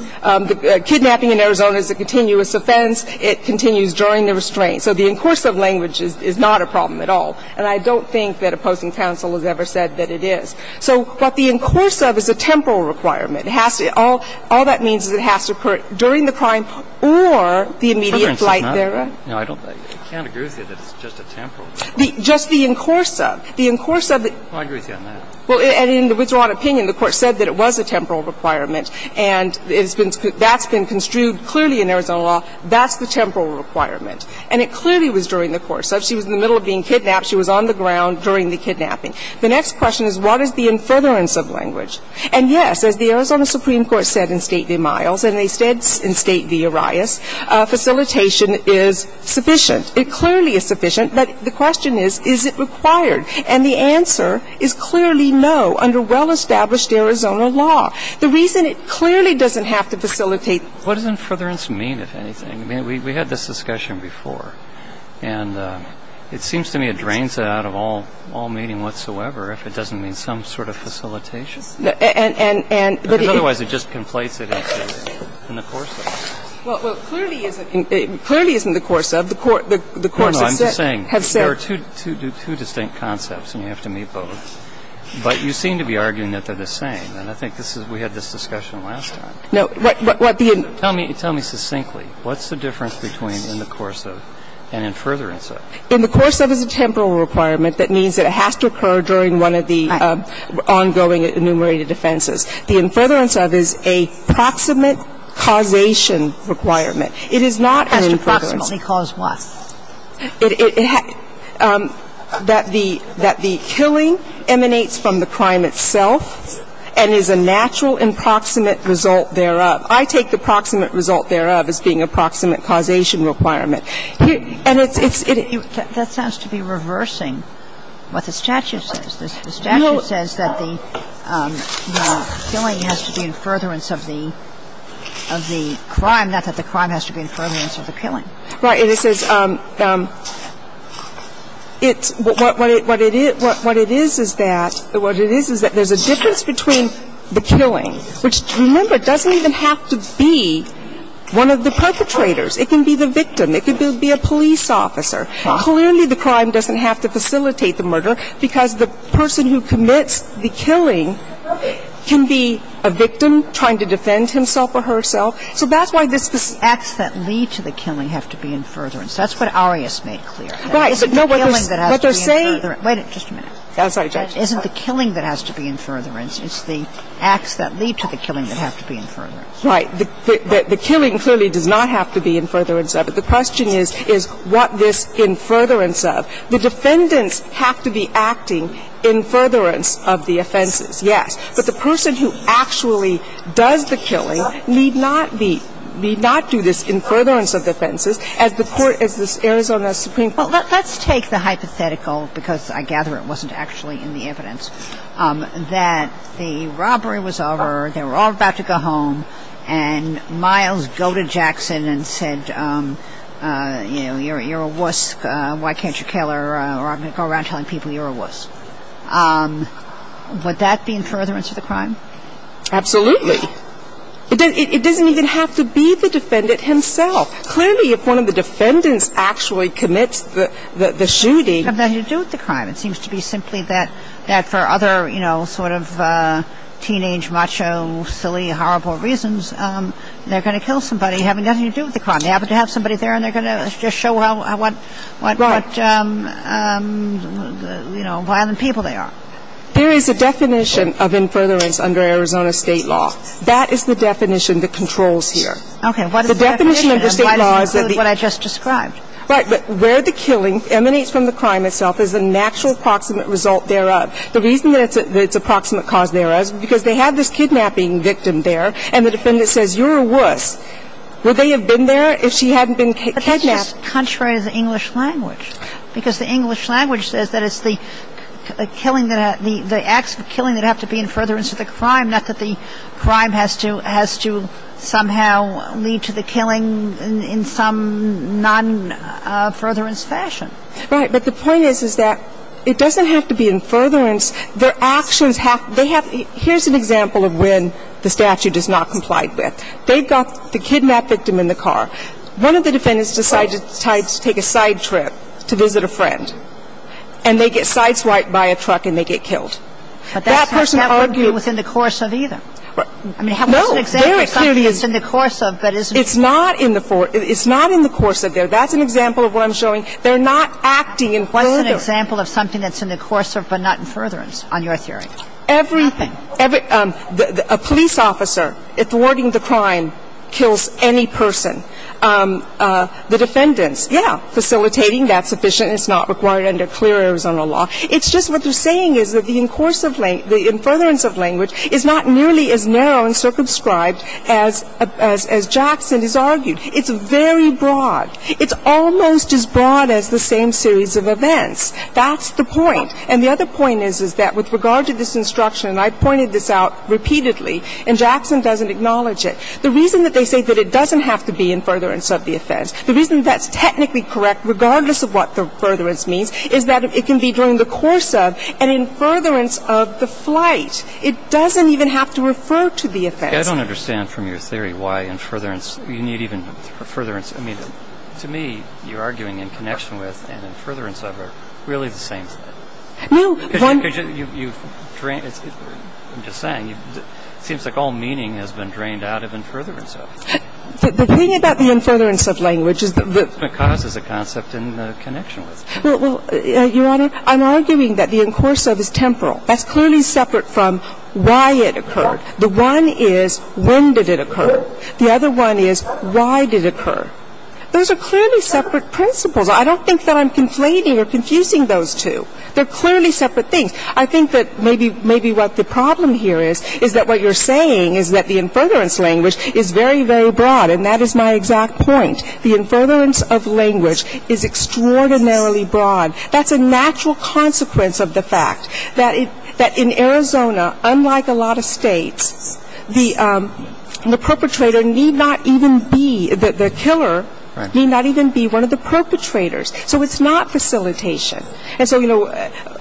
Kidnapping in Arizona is a continuous offense. It continues during the restraint. So the in cursive language is not a problem at all. And I don't think that a posting counsel has ever said that it is. So what the in cursive is a temporal requirement. All that means is it has to occur during the crime or the immediate flight thereof. No, I don't think. I can't agree with you that it's just a temporal requirement. Just the in cursive. The in cursive. I agree with you on that. Well, and in the Widserot opinion, the Court said that it was a temporal requirement and that's been construed clearly in Arizona law. That's the temporal requirement. And it clearly was during the cursive. She was in the middle of being kidnapped. She was on the ground during the kidnapping. The next question is what is the in furtherance of language? And, yes, as the Arizona Supreme Court said in State v. Miles and they said in State v. Arias, facilitation is sufficient. It clearly is sufficient. But the question is, is it required? And the answer is clearly no under well-established Arizona law. The reason it clearly doesn't have to facilitate. What does in furtherance mean, if anything? I mean, we had this discussion before. And it seems to me it drains it out of all meaning whatsoever if it doesn't mean some sort of facilitation. Because otherwise it just conflates it into in the cursive. Well, clearly it's in the cursive. The courts have said. No, no. I'm just saying there are two distinct concepts and you have to meet both. But you seem to be arguing that they're the same. And I think this is we had this discussion last time. No. What the in. Tell me succinctly. What's the difference between in the cursive and in furtherance of? In the cursive is a temporal requirement. That means that it has to occur during one of the ongoing enumerated offenses. The in furtherance of is a proximate causation requirement. It is not in furtherance. Has to proximately cause what? That the killing emanates from the crime itself and is a natural and proximate result thereof. I take the proximate result thereof as being a proximate causation requirement. And it's. That sounds to be reversing what the statute says. The statute says that the killing has to be in furtherance of the crime, not that the crime has to be in furtherance of the killing. Right. And it says it's what it is. What it is is that there's a difference between the killing, which remember The crime itself doesn't even have to be one of the perpetrators. It can be the victim. It could be a police officer. Clearly, the crime doesn't have to facilitate the murder because the person who commits the killing can be a victim trying to defend himself or herself. So that's why this. The acts that lead to the killing have to be in furtherance. That's what Arias made clear. Right. Isn't the killing that has to be in furtherance? Wait a minute. I'm sorry, Judge. Isn't the killing that has to be in furtherance? It's the acts that lead to the killing that have to be in furtherance. Right. The killing clearly does not have to be in furtherance of it. The question is, is what this in furtherance of? The defendants have to be acting in furtherance of the offenses, yes. But the person who actually does the killing need not be need not do this in furtherance of the offenses. Well, let's take the hypothetical, because I gather it wasn't actually in the evidence, that the robbery was over. They were all about to go home. And Miles goaded Jackson and said, you know, you're a wuss. Why can't you kill her? Or I'm going to go around telling people you're a wuss. Would that be in furtherance of the crime? Absolutely. It doesn't even have to be the defendant himself. Clearly, if one of the defendants actually commits the shooting. It has nothing to do with the crime. It seems to be simply that for other, you know, sort of teenage, macho, silly, horrible reasons, they're going to kill somebody having nothing to do with the crime. They happen to have somebody there, and they're going to just show how violent people they are. There is a definition of in furtherance under Arizona state law. That is the definition that controls here. Okay. What is the definition? And why does it include what I just described? Right. But where the killing emanates from the crime itself is a natural approximate result thereof. The reason that it's an approximate cause thereof is because they have this kidnapping victim there, and the defendant says, you're a wuss. Would they have been there if she hadn't been kidnapped? But that's just contrary to the English language. Because the English language says that it's the killing that the acts of killing that have to be in furtherance of the crime, not that the crime has to somehow lead to the killing in some non-furtherance fashion. Right. But the point is, is that it doesn't have to be in furtherance. Their actions have to be. Here's an example of when the statute does not comply with. They've got the kidnapped victim in the car. One of the defendants decides to take a side trip to visit a friend, and they get sideswiped by a truck, and they get killed. But that's not going to be within the course of either. I mean, what's an example of something that's in the course of but isn't? It's not in the course of there. That's an example of what I'm showing. They're not acting in furtherance. What's an example of something that's in the course of but not in furtherance on your theory? Nothing. A police officer thwarting the crime kills any person. The defendants, yeah, facilitating. That's sufficient. It's not required under clear Arizona law. It's just what they're saying is that the in course of the furtherance of language is not nearly as narrow and circumscribed as Jackson has argued. It's very broad. It's almost as broad as the same series of events. That's the point. And the other point is, is that with regard to this instruction, and I've pointed this out repeatedly, and Jackson doesn't acknowledge it, the reason that they say that it doesn't have to be in furtherance of the offense, the reason that's technically correct, regardless of what the furtherance means, is that it can be during the course of and in furtherance of the flight. It doesn't even have to refer to the offense. I don't understand from your theory why in furtherance, you need even furtherance to me, you're arguing in connection with and in furtherance of are really the same thing. No. Because you've drained, I'm just saying, it seems like all meaning has been drained out of in furtherance of. The thing about the in furtherance of language is that the ---- Because is a concept in connection with. Well, Your Honor, I'm arguing that the in course of is temporal. That's clearly separate from why it occurred. The one is when did it occur. The other one is why did it occur. Those are clearly separate principles. I don't think that I'm conflating or confusing those two. They're clearly separate things. I think that maybe what the problem here is, is that what you're saying is that the in furtherance of language is extraordinarily broad. And that is my exact point. The in furtherance of language is extraordinarily broad. That's a natural consequence of the fact that in Arizona, unlike a lot of states, the perpetrator need not even be, the killer need not even be one of the perpetrators. So it's not facilitation. And so, you know,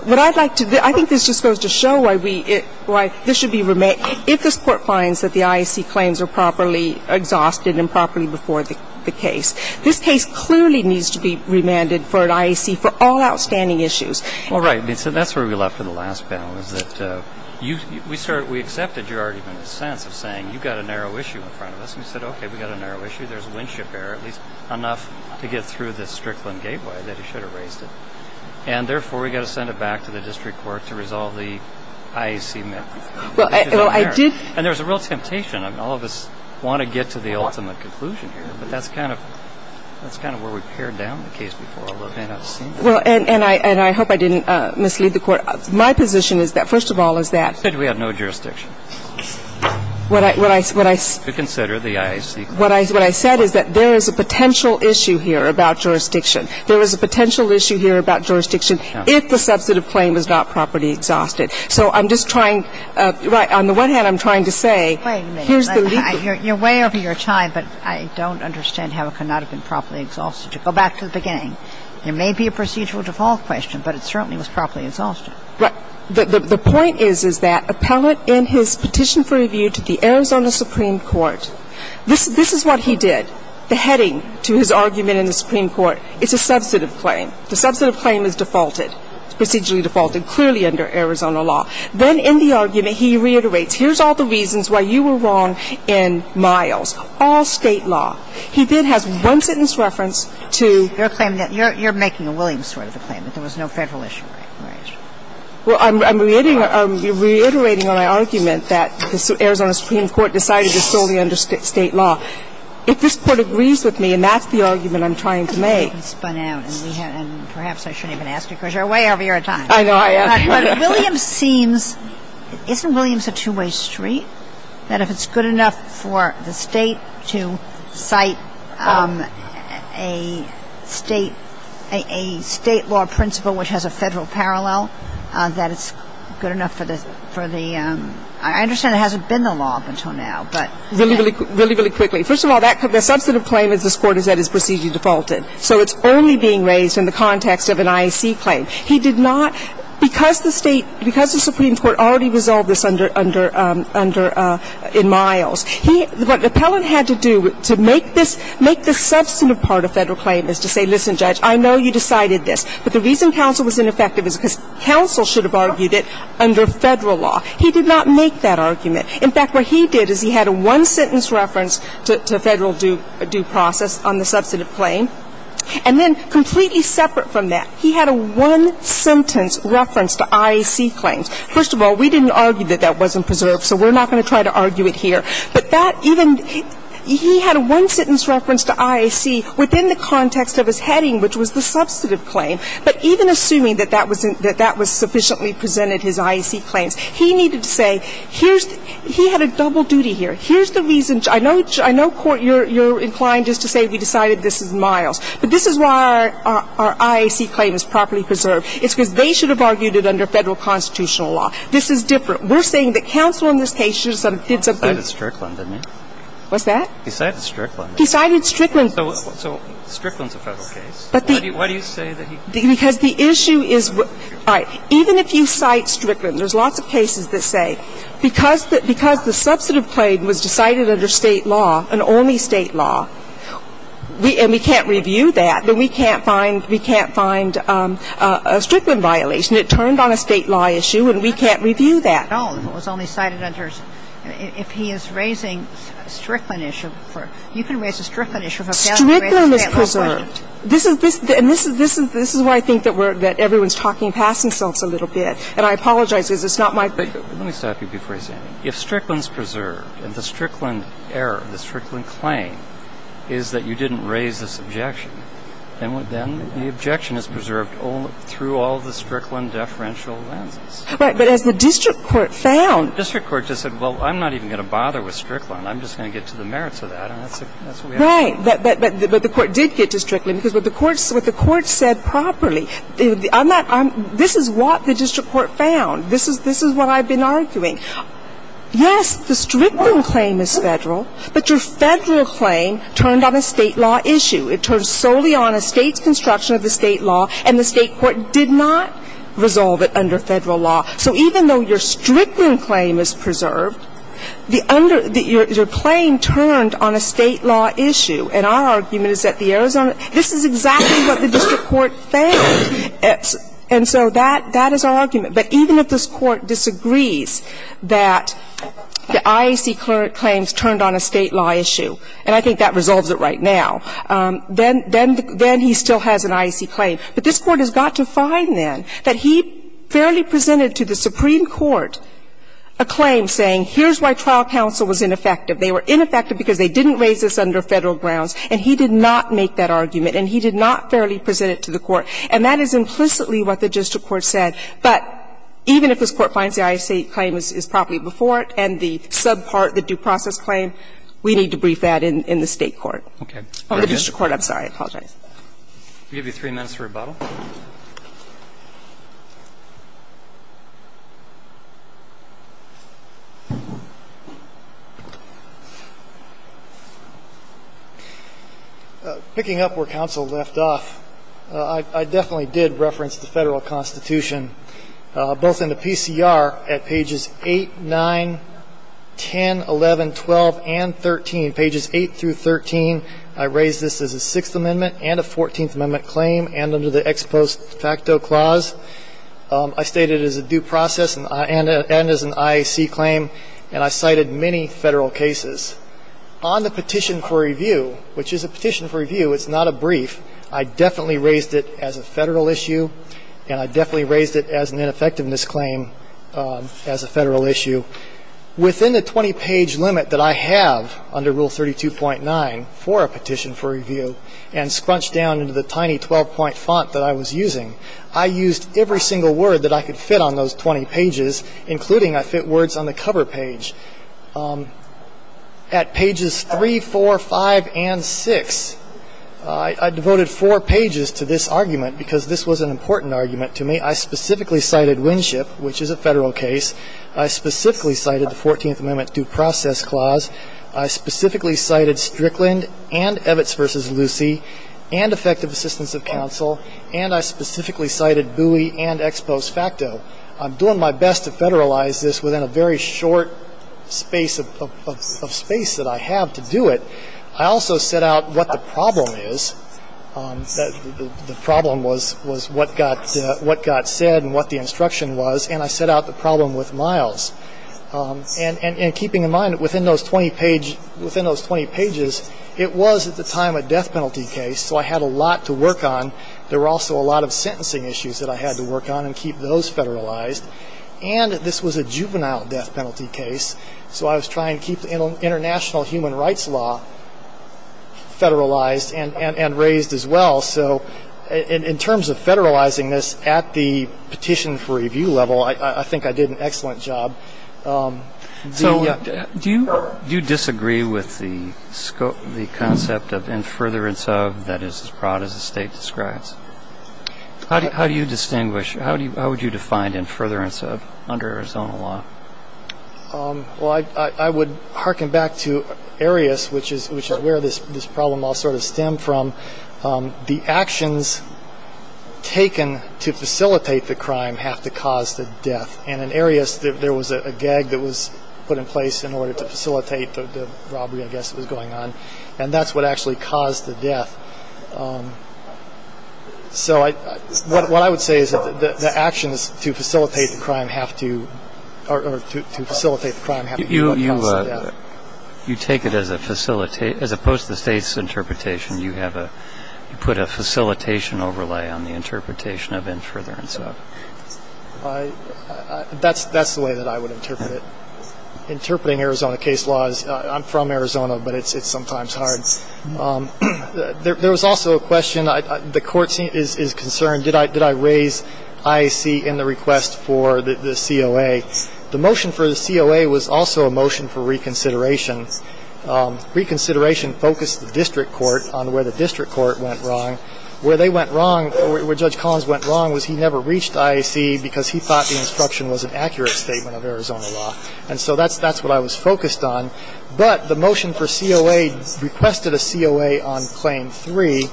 what I'd like to do, I think this just goes to show why we, why this should be remanded. If this Court finds that the IAC claims are properly exhausted and properly before the case, this case clearly needs to be remanded for an IAC for all outstanding issues. Well, right. That's where we left in the last panel, is that you, we started, we accepted your argument in a sense of saying you've got a narrow issue in front of us. And we said, okay, we've got a narrow issue. There's windship error, at least enough to get through this Strickland gateway that he should have raised it. And therefore, we've got to send it back to the district court to resolve the IAC matter. Well, I did. And there's a real temptation. I mean, all of us want to get to the ultimate conclusion here. But that's kind of, that's kind of where we pared down the case before all of this. Well, and I hope I didn't mislead the Court. My position is that, first of all, is that. You said we have no jurisdiction. What I. To consider the IAC. What I said is that there is a potential issue here about jurisdiction. There is a potential issue here about jurisdiction if the substantive claim is not properly exhausted. So I'm just trying. Right. On the one hand, I'm trying to say. Wait a minute. Here's the legal. You're way over your time. But I don't understand how it could not have been properly exhausted. Go back to the beginning. There may be a procedural default question, but it certainly was properly exhausted. Right. The point is, is that appellate in his petition for review to the Arizona Supreme Court, this is what he did. The heading to his argument in the Supreme Court, it's a substantive claim. The substantive claim is defaulted. It's procedurally defaulted, clearly under Arizona law. Then in the argument, he reiterates, here's all the reasons why you were wrong in Miles. All State law. He then has one sentence reference to. You're claiming that. You're making a Williams sort of a claim, that there was no Federal issue. Well, I'm reiterating on my argument that the Arizona Supreme Court decided to solely under State law. If this Court agrees with me, and that's the argument I'm trying to make. Perhaps I shouldn't even ask you because you're way over your time. I know I am. But Williams seems – isn't Williams a two-way street? That if it's good enough for the State to cite a State – a State law principle which has a Federal parallel, that it's good enough for the – I understand it hasn't been the law up until now. Right. Really, really quickly. First of all, the substantive claim of this Court is that it's procedurally defaulted. So it's only being raised in the context of an IAC claim. He did not – because the State – because the Supreme Court already resolved this under – in Miles, what the appellant had to do to make this substantive part of Federal claim is to say, listen, Judge, I know you decided this, but the reason counsel was ineffective is because counsel should have argued it under Federal He did not make that argument. In fact, what he did is he had a one-sentence reference to Federal due process on the substantive claim. And then, completely separate from that, he had a one-sentence reference to IAC claims. First of all, we didn't argue that that wasn't preserved, so we're not going to try to argue it here. But that even – he had a one-sentence reference to IAC within the context of his heading, which was the substantive claim. But even assuming that that was – that that was sufficiently presented, his IAC He had a double duty here. Here's the reason – I know – I know, Court, you're inclined just to say we decided this is Miles. But this is why our IAC claim is properly preserved. It's because they should have argued it under Federal constitutional law. This is different. We're saying that counsel in this case should have sort of did something – He cited Strickland, didn't he? What's that? He cited Strickland. He cited Strickland. So Strickland's a Federal case. But the – Why do you say that he – Because the issue is – all right. Even if you cite Strickland, there's lots of cases that say because the – because the substantive claim was decided under State law, an only State law, and we can't review that, then we can't find – we can't find a Strickland violation. It turned on a State law issue, and we can't review that. No. It was only cited under – if he is raising a Strickland issue for – you can raise a Strickland issue for a Federal case. Strickland is preserved. This is – and this is why I think that we're – that everyone's talking past themselves a little bit, and I apologize because it's not my – Let me stop you before you say anything. If Strickland's preserved, and the Strickland error, the Strickland claim is that you didn't raise this objection, then the objection is preserved through all the Strickland deferential lenses. Right. But as the district court found – District court just said, well, I'm not even going to bother with Strickland. I'm just going to get to the merits of that, and that's what we have to do. But the court did get to Strickland, because what the court said properly, I'm not – this is what the district court found. This is what I've been arguing. Yes, the Strickland claim is Federal, but your Federal claim turned on a State law issue. It turned solely on a State's construction of the State law, and the State court did not resolve it under Federal law. So even though your Strickland claim is preserved, the under – your claim turned on a State law issue, and our argument is that the Arizona – this is exactly what the district court found. And so that is our argument. But even if this Court disagrees that the IAC claims turned on a State law issue – and I think that resolves it right now – then he still has an IAC claim. But this Court has got to find, then, that he fairly presented to the Supreme Court a claim saying, here's why trial counsel was ineffective. They were ineffective because they didn't raise this under Federal grounds, and he did not make that argument, and he did not fairly present it to the court. And that is implicitly what the district court said. But even if this Court finds the IAC claim is properly before it and the sub part, the due process claim, we need to brief that in the State court. Oh, the district court. I apologize. I'll give you three minutes for rebuttal. Picking up where counsel left off, I definitely did reference the Federal Constitution, both in the PCR at pages 8, 9, 10, 11, 12, and 13, pages 8 through 13. I raised this as a Sixth Amendment and a Fourteenth Amendment claim and under the ex post facto clause. I stated it as a due process and as an IAC claim, and I cited many Federal cases. On the petition for review, which is a petition for review. It's not a brief. I definitely raised it as a Federal issue, and I definitely raised it as an ineffectiveness claim as a Federal issue. Within the 20-page limit that I have under Rule 32.9 for a petition for review and scrunched down into the tiny 12-point font that I was using, I used every single word that I could fit on those 20 pages, including I fit words on the cover page. At pages 3, 4, 5, and 6, I devoted four pages to this argument because this was an important argument to me. I specifically cited Winship, which is a Federal case. I specifically cited the Fourteenth Amendment due process clause. I specifically cited Strickland and Evitz v. Lucey and effective assistance of counsel, and I specifically cited Bowie and ex post facto. I'm doing my best to Federalize this within a very short space of space that I have to do it. I also set out what the problem is. The problem was what got said and what the instruction was, and I set out the problem with Miles. And keeping in mind, within those 20 pages, it was at the time a death penalty case, so I had a lot to work on. There were also a lot of sentencing issues that I had to work on and keep those Federalized. And this was a juvenile death penalty case, so I was trying to keep international human rights law Federalized and raised as well. So in terms of Federalizing this at the petition for review level, I think I did an excellent job. So, yeah. Do you disagree with the concept of in furtherance of that is as broad as the State describes? How do you distinguish? How would you define in furtherance of under Arizona law? Well, I would hearken back to Arias, which is where this problem all sort of stemmed from. The actions taken to facilitate the crime have to cause the death. And in Arias, there was a gag that was put in place in order to facilitate the robbery, I guess, that was going on. And that's what actually caused the death. So what I would say is that the actions to facilitate the crime have to or to facilitate the crime have to cause the death. You take it as opposed to the State's interpretation. You put a facilitation overlay on the interpretation of in furtherance of. That's the way that I would interpret it. Interpreting Arizona case law is, I'm from Arizona, but it's sometimes hard. There was also a question, the court is concerned, did I raise IAC in the request for the COA? The motion for the COA was also a motion for reconsideration. Reconsideration focused the district court on where the district court went wrong. Where they went wrong, where Judge Collins went wrong was he never reached IAC because he thought the instruction was an accurate statement of Arizona law. And so that's what I was focused on. But the motion for COA requested a COA on Claim 3,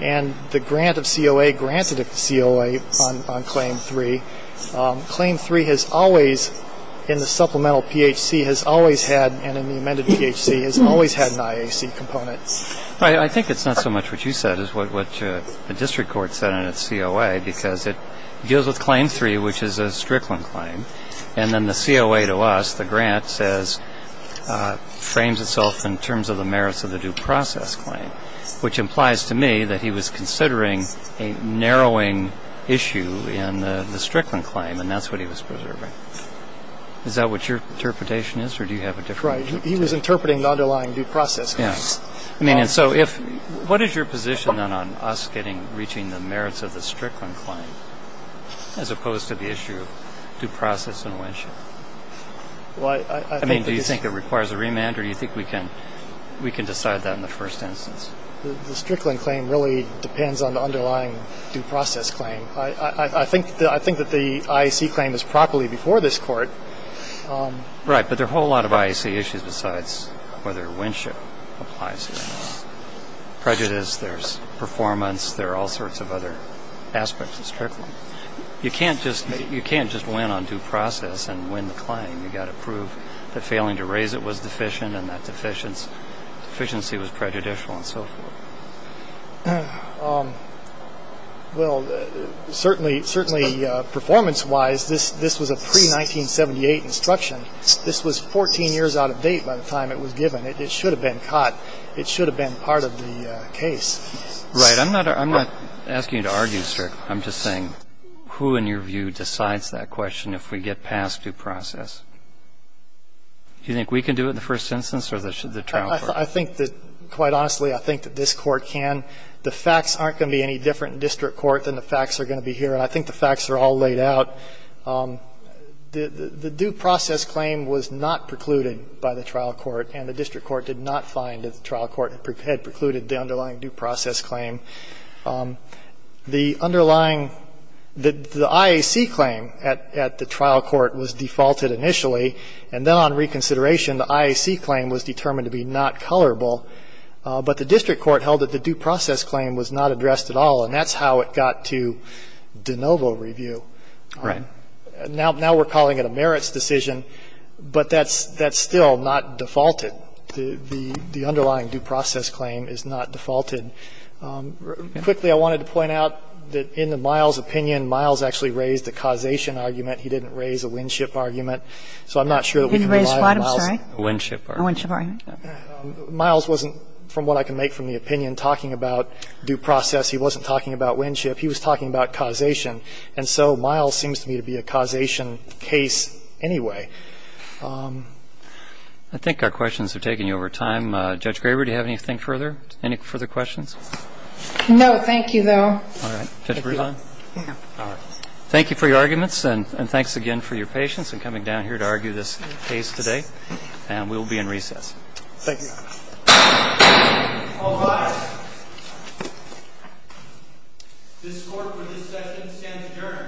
and the grant of COA granted a COA on Claim 3. Claim 3 has always, in the supplemental PHC, has always had, and in the amended PHC, has always had an IAC component. Right. I think it's not so much what you said as what the district court said in its COA, because it deals with Claim 3, which is a Strickland claim, and then the COA to us, the grant, says frames itself in terms of the merits of the due process claim, which implies to me that he was considering a narrowing issue in the Strickland claim, and that's what he was preserving. Is that what your interpretation is, or do you have a different one? Right. He was interpreting the underlying due process claim. Yes. I mean, and so if — what is your position, then, on us getting — reaching the merits of the Strickland claim as opposed to the issue of due process in Winship? Well, I think that — I mean, do you think it requires a remand, or do you think we can decide that in the first instance? The Strickland claim really depends on the underlying due process claim. I think that the IAC claim is properly before this Court. Right. But there are a whole lot of IAC issues besides whether Winship applies or not. There's prejudice. There's performance. There are all sorts of other aspects of Strickland. You can't just win on due process and win the claim. You've got to prove that failing to raise it was deficient, and that deficiency was prejudicial, and so forth. Well, certainly performance-wise, this was a pre-1978 instruction. This was 14 years out of date by the time it was given. It should have been caught. It should have been part of the case. Right. I'm not asking you to argue, sir. I'm just saying who, in your view, decides that question if we get past due process? Do you think we can do it in the first instance, or should the trial court? I think that, quite honestly, I think that this Court can. The facts aren't going to be any different in district court than the facts are going to be here. And I think the facts are all laid out. The due process claim was not precluded by the trial court, and the district court did not find that the trial court had precluded the underlying due process claim. The underlying the IAC claim at the trial court was defaulted initially, and then on reconsideration, the IAC claim was determined to be not colorable. But the district court held that the due process claim was not addressed at all, and that's how it got to de novo review. Right. Now we're calling it a merits decision, but that's still not defaulted. The underlying due process claim is not defaulted. Quickly, I wanted to point out that in the Miles opinion, Miles actually raised a causation argument. He didn't raise a Winship argument. So I'm not sure that we can rely on Miles. A Winship argument. A Winship argument. Miles wasn't, from what I can make from the opinion, talking about due process. He wasn't talking about Winship. He was talking about causation. And so Miles seems to me to be a causation case anyway. I think our questions are taking you over time. Judge Graber, do you have anything further? Any further questions? No. Thank you, though. All right. Judge Brevin. Thank you. Thank you for your arguments, and thanks again for your patience in coming down here to argue this case today. And we will be in recess. Thank you. All rise. This court for this session stands adjourned. Thank you.